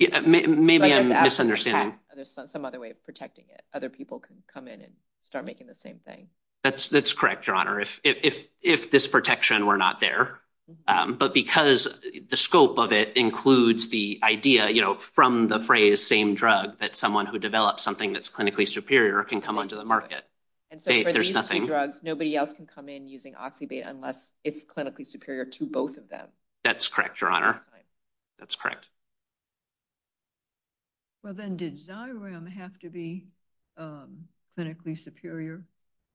Maybe I'm misunderstanding. Some other way of protecting it. Other people can come in and start making the same thing. That's correct, Your Honor, if this protection were not there. But because the scope of it includes the idea, you know, from the phrase same drug, that someone who develops something that's clinically superior can come onto the market. And so for the same drug, nobody else can come in using Oxybate unless it's clinically superior to both of them. That's correct, Your Honor. That's correct. Well, then did Xyrem have to be clinically superior?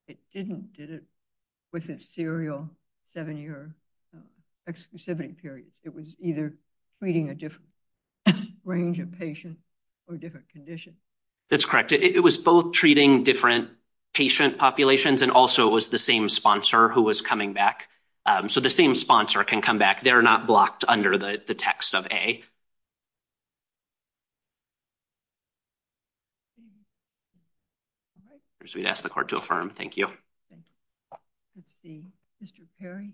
It didn't, did it, with its serial seven-year exclusivity period? It was either treating a different range of patients or different conditions? That's correct. It was both treating different patient populations and also it was the same sponsor who was coming back. So, the same sponsor can come back. They're not blocked under the text of A. We ask the court to affirm. Thank you. Let's see. Mr. Perry?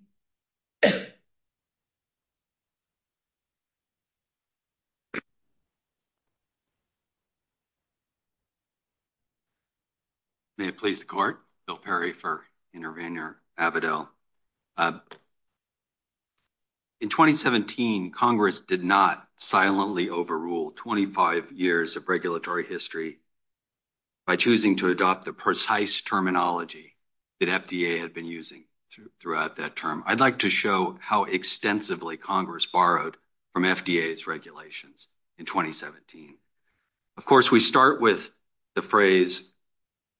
May it please the court? Bill Perry for Intervenor Avedil. In 2017, Congress did not silently overrule 25 years of regulatory history by choosing to adopt the precise terminology that FDA had been using throughout that term. I'd like to show how extensively Congress borrowed from FDA's regulations in 2017. Of course, we start with the phrase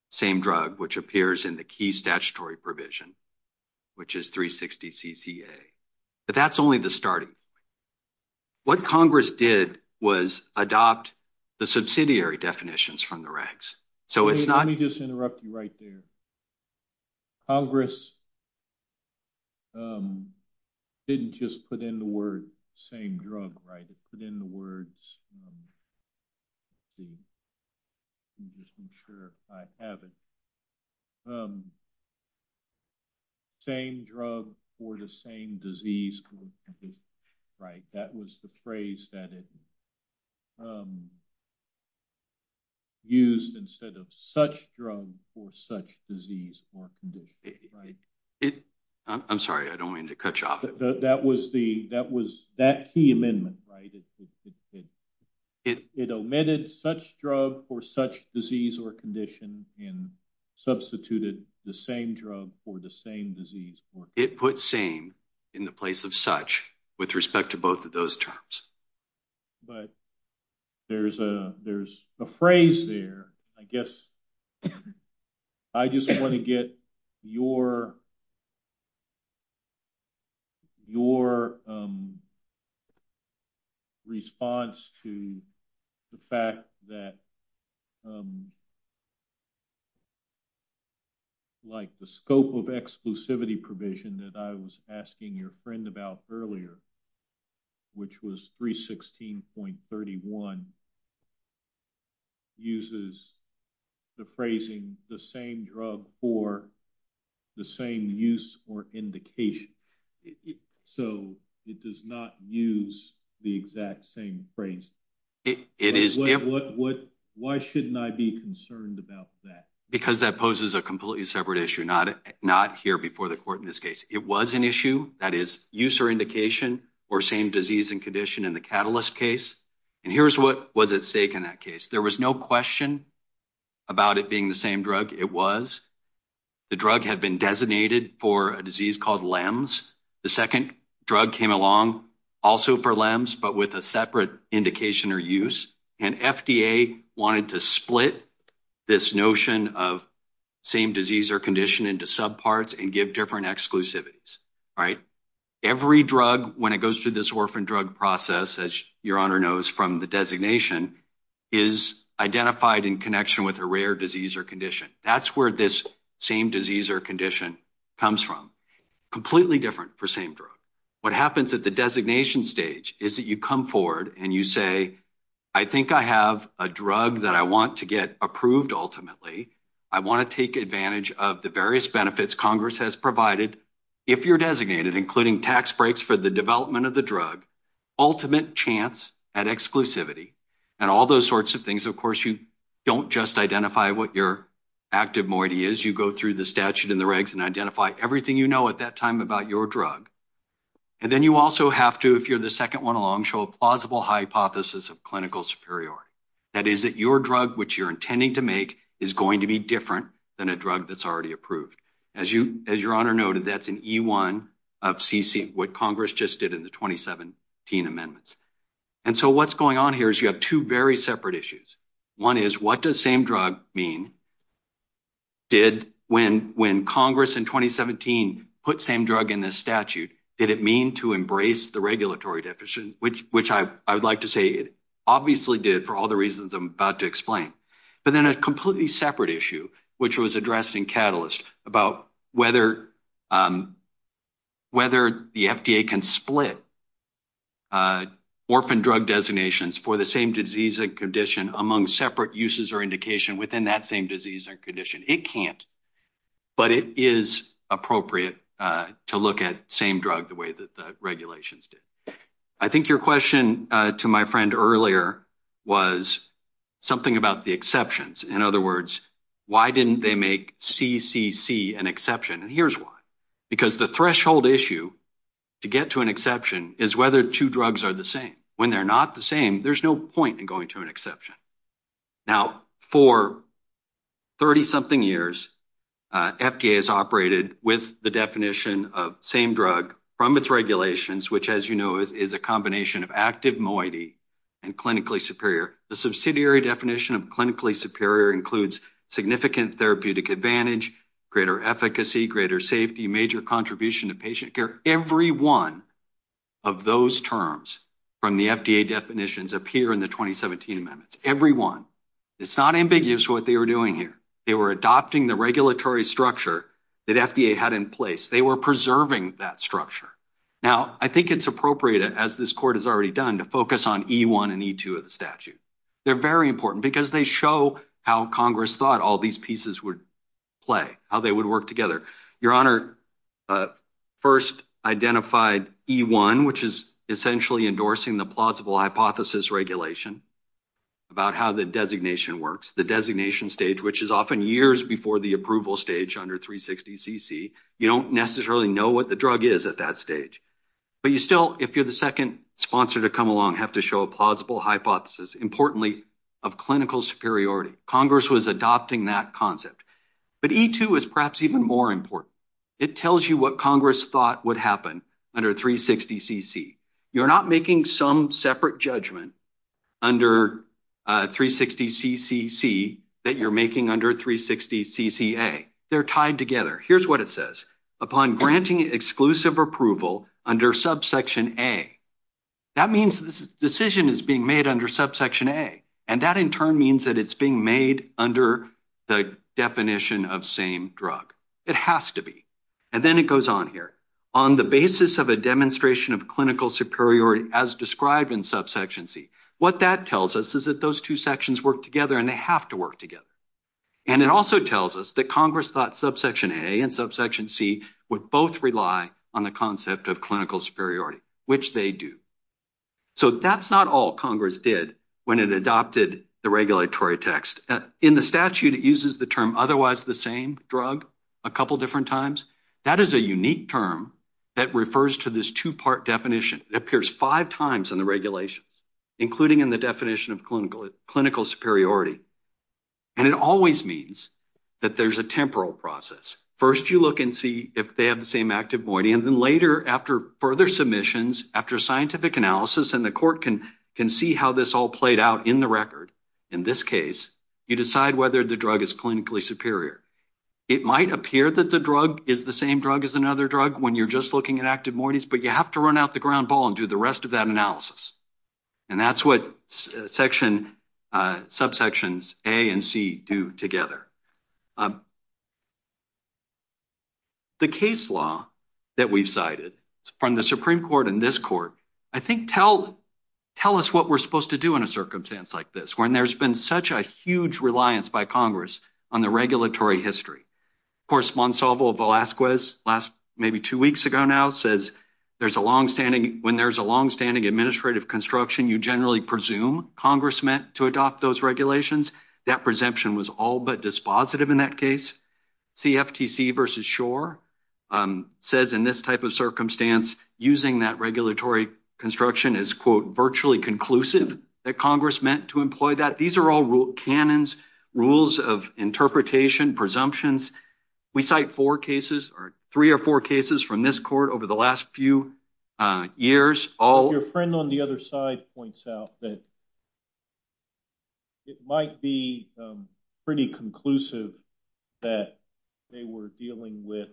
same drug, which appears in the key statutory provision, which is 360 CCA. But only the starting. What Congress did was adopt the subsidiary definitions from the regs. Let me just interrupt you right there. Congress didn't just put in the word same drug, right? It put in the words, I'm not sure if I have it, same drug for the same disease. Right. That was the phrase that it used instead of such drug for such disease. I'm sorry. I don't mean to cut you off. That was the, that was that key amendment, right? It omitted such drug for such disease or condition and substituted the same drug for the same disease. It put same in the place of such with respect to both of those terms. But there's a, there's a phrase there. I guess I just want to get your, your response to the fact that like the scope of exclusivity provision that I was asking your friend about earlier, which was 316.31 uses the phrasing, the same drug for the same use or indication. So it does not use the exact same phrase. Why shouldn't I be concerned about that? Because that poses a completely separate not here before the court. In this case, it was an issue that is use or indication or same disease and condition in the catalyst case. And here's what was at stake in that case. There was no question about it being the same drug. It was the drug had been designated for a disease called lambs. The second drug came along also for lambs, but with a separate indication or FDA wanted to split this notion of same disease or condition into sub parts and give different exclusivities, right? Every drug, when it goes through this orphan drug process, as your honor knows from the designation is identified in connection with a rare disease or condition. That's where this same disease or condition comes from. Completely different for same drug. What happens at the designation stage is that you come forward and you say, I think I have a drug that I want to get approved. Ultimately, I want to take advantage of the various benefits Congress has provided. If you're designated, including tax breaks for the development of the drug, ultimate chance at exclusivity and all those sorts of things. Of course, you don't just identify what your active moiety is. You go through the statute and the regs and identify everything you know at that time about your drug. Then you also have to, if you're the second one along, show a plausible hypothesis of clinical superiority. That is that your drug, which you're intending to make, is going to be different than a drug that's already approved. As your honor noted, that's an E1 of CC, what Congress just did in the 2017 amendments. What's going on here is you have two very separate issues. One is, what does same drug mean? When Congress in 2017 put same drug in the statute, did it mean to embrace the regulatory deficient, which I would like to say it obviously did for all the reasons I'm about to explain. Then a completely separate issue, which was addressed in Catalyst, about whether the FDA can split up orphan drug designations for the same disease and condition among separate uses or indication within that same disease or condition. It can't, but it is appropriate to look at same drug the way that the regulations did. I think your question to my friend earlier was something about the exceptions. In other words, why didn't they make CCC an exception? Here's why. Because the threshold issue to get to an exception is whether two drugs are the same. When they're not the same, there's no point in going to an exception. Now, for 30 something years, FDA has operated with the definition of same drug from its regulations, which as you know, is a combination of active, moiety, and clinically superior. The subsidiary definition of clinically superior includes significant therapeutic advantage, greater efficacy, greater safety, major contribution to patient care. Every one of those terms from the FDA definitions appear in the 2017 amendments. Every one. It's not ambiguous what they were doing here. They were adopting the regulatory structure that FDA had in place. They were preserving that structure. Now, I think it's appropriate, as this court has already done, to focus on E1 and E2 of the statute. They're very important because they show how Congress thought all these pieces would play, how they would work together. Your Honor, first identified E1, which is essentially endorsing the plausible hypothesis regulation about how the designation works. The designation stage, which is often years before the approval stage under 360 CC, you don't necessarily know what the drug is at that stage. But you still, if you're the second sponsor to come along, have to show a plausible hypothesis, importantly, of clinical superiority. Congress was adopting that concept. But E2 is perhaps even more important. It tells you what Congress thought would happen under 360 CC. You're not making some separate judgment under 360 CC that you're making under 360 CCA. They're tied together. Here's what it says. Upon granting exclusive approval under subsection A, that means the decision is being made under subsection A. And that in turn means that it's being made under the definition of same drug. It has to be. And then it goes on here. On the basis of a demonstration of clinical superiority as described in subsection C, what that tells us is that those two sections work together and they have to work together. And it also tells us that Congress thought subsection A and subsection C would both rely on the concept of clinical superiority, which they do. So that's not all Congress did when it adopted the regulatory text. In the statute, it uses the term otherwise the same drug a couple different times. That is a unique term that refers to this two-part definition. It appears five times in the regulation, including in the definition of clinical superiority. And it always means that there's a temporal process. First, you look and see if they have the same active moiety. And then later, after further submissions, after scientific analysis, and the court can see how this all played out in the record, in this case, you decide whether the drug is clinically superior. It might appear that the drug is the same drug as another drug when you're just looking at active moieties, but you have to run out the ground ball and do the rest of that analysis. And that's what subsections A and C do together. The case law that we've cited from the Supreme Court and this court, I think, tell us what we're supposed to do in a circumstance like this, when there's been such a huge reliance by Congress on the regulatory history. Of course, Monsalvo Velasquez, maybe two weeks ago now, says when there's a longstanding administrative construction, you generally presume Congress meant to adopt those regulations. That presumption was all but dispositive in that case. CFTC v. Schor says in this type of circumstance, using that regulatory construction is, quote, virtually conclusive that Congress meant to employ that. These are all canons, rules of interpretation, presumptions. We cite three or four cases from this court over the last few years. Your friend on the other side points out that it might be pretty conclusive that they were dealing with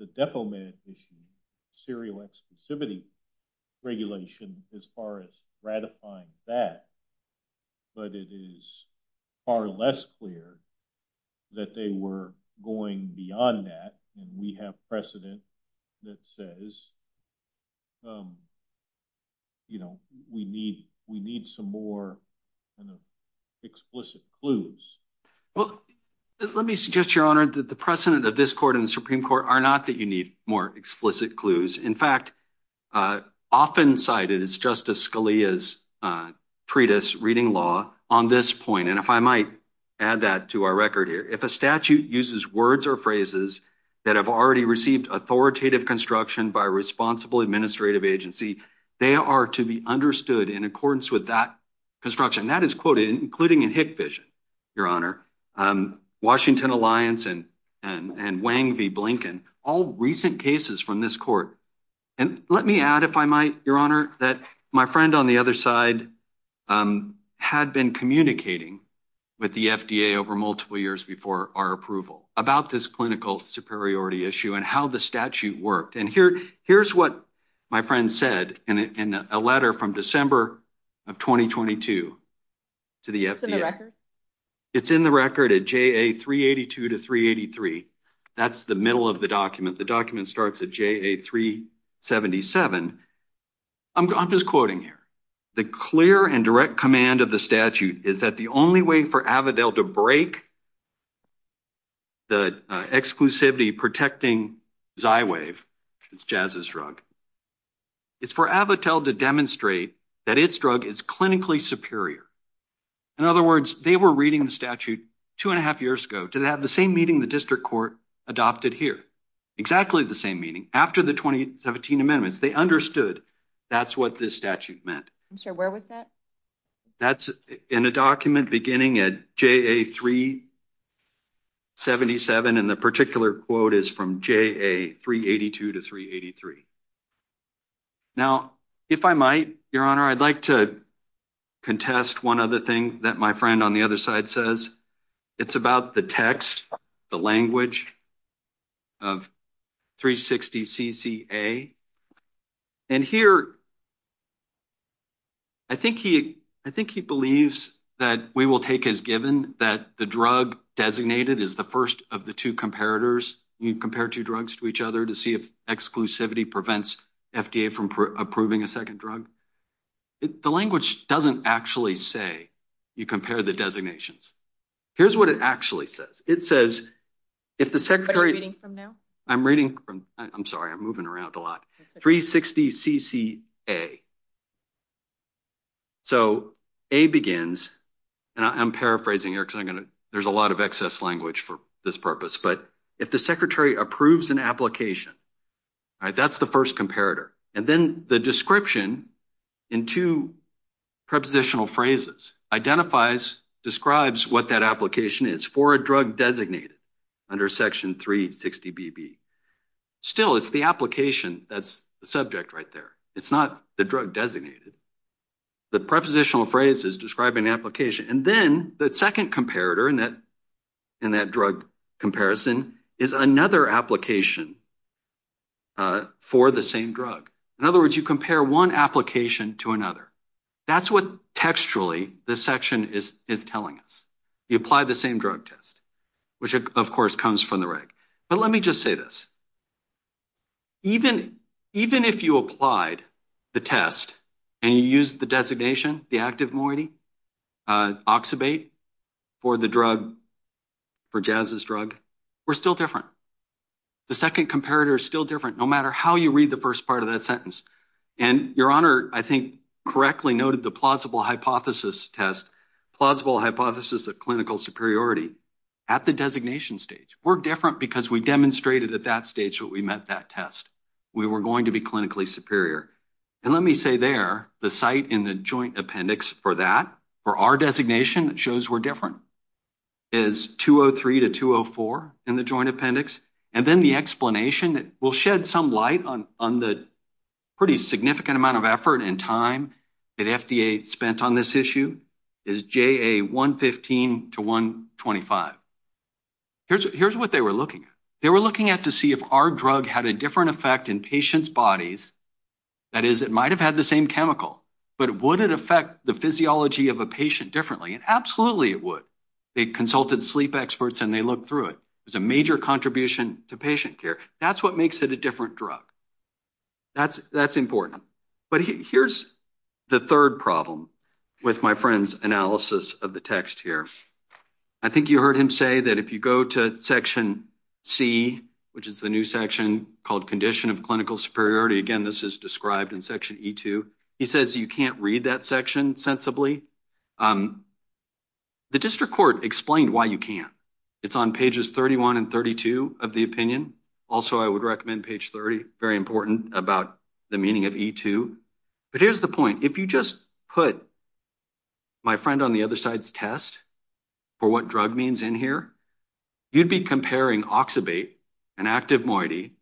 the depo-med issue, serial exclusivity regulation, as far as ratifying that. But it is far less clear that they were going beyond that. And we have precedent that says we need some more explicit clues. Well, let me suggest, Your Honor, that the precedent of this court and the Supreme Court are not that you need more explicit clues. In fact, often cited as Scalia's treatise, Reading Law, on this point, and if I might add that to our record here, if a statute uses words or phrases that have already received authoritative construction by a responsible administrative agency, they are to be understood in accordance with that construction. That is quoted, including in Hickvision, Your Honor, Washington Alliance, and Wang v. Blinken, all recent cases from this court. And let me add, if I might, Your Honor, that my friend on the other side had been communicating with the FDA over multiple years before our approval about this clinical superiority issue and how the statute worked. Here's what my friend said in a letter from December of 2022 to the FDA. It's in the record at JA 382 to 383. That's the middle of the document. The document starts at JA 377. I'm just quoting here. The clear and direct command of the statute is that the only way for Avidel to break the exclusivity-protecting Zywave, it's Jazz's drug, it's for Avidel to demonstrate that its drug is clinically superior. In other words, they were reading the statute two and a half years ago to have the same meeting the district court adopted here, exactly the same meeting. After the 2017 amendments, they understood that's what this statute meant. I'm sorry, where was that? That's in a document beginning at JA 377, and the particular quote is from JA 382 to 383. Now, if I might, Your Honor, I'd like to contest one other thing that my friend on the other side says. It's about the text, the language of 360CCA. Here, I think he believes that we will take as given that the drug designated is the first of the two comparators when you compare two drugs to each other to see if exclusivity prevents FDA from approving a second drug. The language doesn't actually say you compare the designations. Here's what it actually says. It says, if the secretary... What are you reading from now? I'm reading from... I'm sorry, I'm moving around a lot. 360CCA. So, A begins, and I'm paraphrasing here because there's a lot of excess language for this purpose, but if the secretary approves an application, that's the first comparator. And then the description in two prepositional phrases identifies, describes what that application is for a drug designated under Section 360BB. Still, it's the application that's the subject right there. It's not the drug designated. The prepositional phrase is describing application. And then the second comparator in that drug comparison is another application for the same drug. In other words, you compare one application to another. That's what textually this section is telling us. You apply the same drug test, which of course comes from the reg. But let me just say this. Even if you applied the test and you used the designation, the active we're still different. The second comparator is still different no matter how you read the first part of that sentence. And Your Honor, I think correctly noted the plausible hypothesis test, plausible hypothesis of clinical superiority at the designation stage. We're different because we demonstrated at that stage that we met that test. We were going to be clinically superior. And let me say there, the site in the joint appendix for that, for our designation, shows we're different. It is 203 to 204 in the joint appendix. And then the explanation that will shed some light on the pretty significant amount of effort and time that FDA spent on this issue is JA 115 to 125. Here's what they were looking at. They were looking at to see if our drug had a different effect in patients' bodies. That is, it might have had the same chemical, but would it affect the physiology of a patient differently? Absolutely it would. They consulted sleep experts and they looked through it. It was a major contribution to patient care. That's what makes it a different drug. That's important. But here's the third problem with my friend's analysis of the text here. I think you heard him say that if you go to section C, which is the new section called condition of clinical superiority, again, this is described in section E2, he says you can't read that section sensibly. The district court explained why you can't. It's on pages 31 and 32 of the opinion. Also, I would recommend page 30, very important about the meaning of E2. But here's the point. If you just put my friend on the other side's test for what drug means in here, you'd be comparing Oxivate and active moiety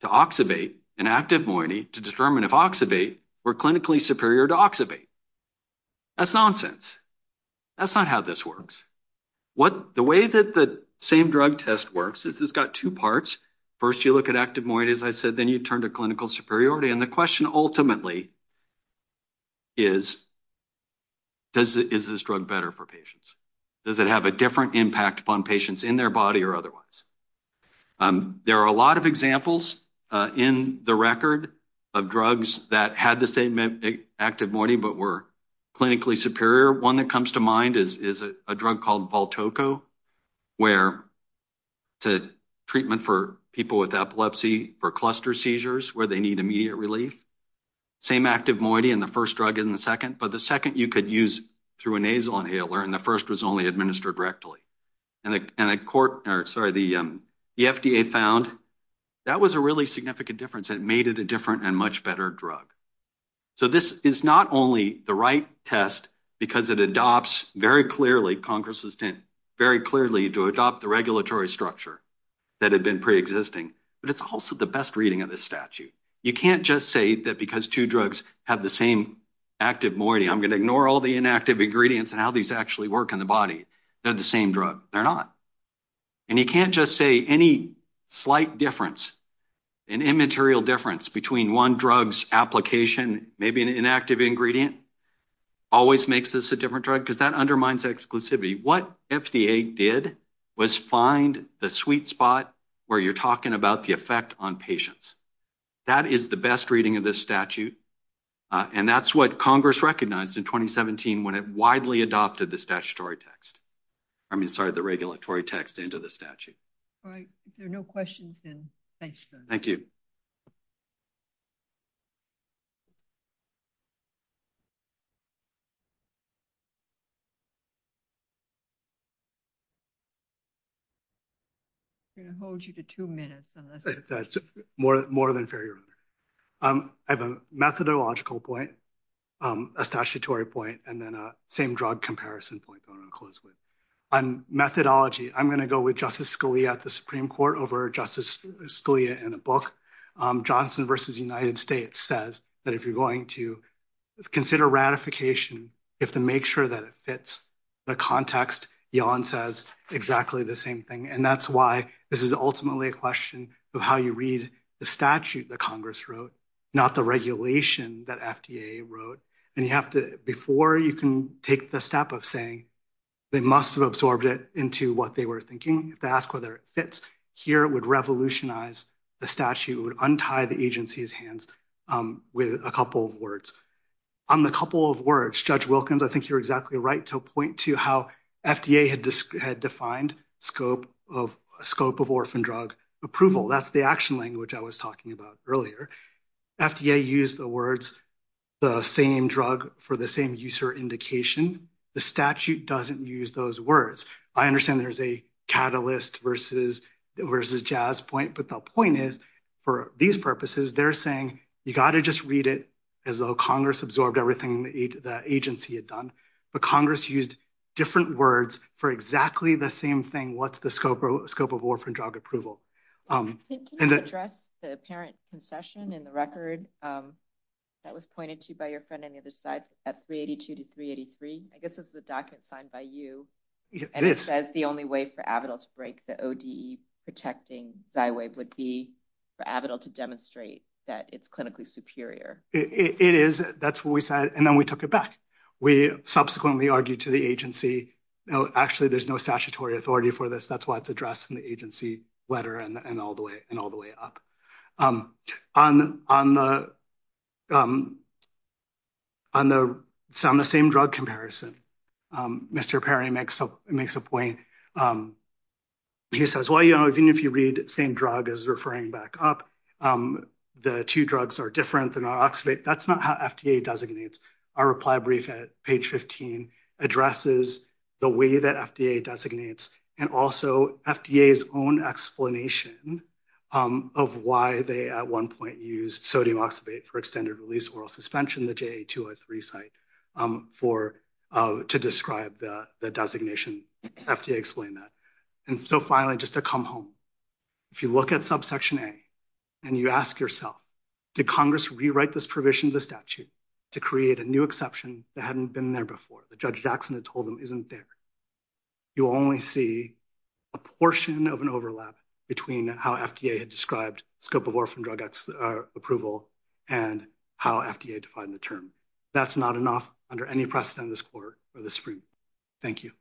to Oxivate and active moiety to determine if Oxivate were clinically superior to Oxivate. That's nonsense. That's not how this works. The way that the same drug test works, this has got two parts. First, you look at active moiety, as I said, then you turn to clinical superiority. And the question ultimately is, is this drug better for patients? Does it have a different impact upon patients in their body or otherwise? There are a lot of examples in the record of drugs that had the same active moiety but were clinically superior. One that comes to mind is a drug called Valtoco, where the treatment for people with epilepsy for cluster seizures where they need immediate relief, same active moiety in the first drug and the second, but the second you could use through a nasal inhaler and the only administered rectally. And the FDA found that was a really significant difference. It made it a different and much better drug. So this is not only the right test because it adopts very clearly, Congress has done very clearly to adopt the regulatory structure that had been preexisting, but it's also the best reading of the statute. You can't just say that because two drugs have same active moiety, I'm going to ignore all the inactive ingredients and how these actually work on the body. They're the same drug. They're not. And you can't just say any slight difference, an immaterial difference between one drug's application, maybe an inactive ingredient, always makes this a different drug because that undermines exclusivity. What FDA did was find the sweet spot where you're talking about the effect on patients. That is the best reading of the statute. And that's what Congress recognized in 2017 when it widely adopted the statutory text, I mean, sorry, the regulatory text into the statute. All right. If there are no questions, then thanks, Doug. Thank you. I'm going to hold you to two minutes on this. That's more than fair. I have a methodological point, a statutory point, and then a same drug comparison point. I'm methodology. I'm going to go with Justice Scalia at the Supreme Court over Justice Scalia in a book. Johnson v. United States says that if you're going to consider ratification, you have to make sure that it fits the context. Yon says exactly the same thing. And that's why this is ultimately a question of how you read the statute that Congress wrote, not the regulation that FDA wrote. Before you can take the step of saying they must have absorbed it into what they were thinking, to ask whether it fits, here it would revolutionize the statute. It would untie the agency's hands with a couple of words. On the couple of words, Judge Wilkins, I think you're exactly right to point to how FDA had defined scope of orphan drug approval. That's the action language I was talking about earlier. FDA used the words the same drug for the same use or indication. The statute doesn't use those words. I understand there's a catalyst versus jazz point. But the point is, for these purposes, they're saying you got to just read it as though Congress absorbed everything that agency had done. But Congress used different words for exactly the same thing, what's the scope of drug approval. Can you address the apparent concession in the record that was pointed to by your friend on the other side at 382 to 383? I guess it's the docket signed by you. It is. And it says the only way for Avidyl to break the ODE protecting thyroid would be for Avidyl to demonstrate that it's clinically superior. It is. That's what we said. And then we took it back. We subsequently argued to the agency, actually, there's no letter and all the way up. On the same drug comparison, Mr. Perry makes a point. He says, well, you know, even if you read same drug as referring back up, the two drugs are different. That's not how FDA designates. Our reply brief at page 15 addresses the way that FDA designates and also FDA's own explanation of why they at one point used sodium oxalate for extended release, oral suspension, the JA203 site to describe the designation. FDA explained that. And so finally, just to come home, if you look at subsection A and you ask yourself, did Congress rewrite this provision of the statute to create a new exception that hadn't been there before? The judge Jackson had told them isn't there. You only see a portion of an overlap between how FDA had described scope of orphan drug approval and how FDA defined the term. That's not enough under any precedent this quarter or this spring. Thank you.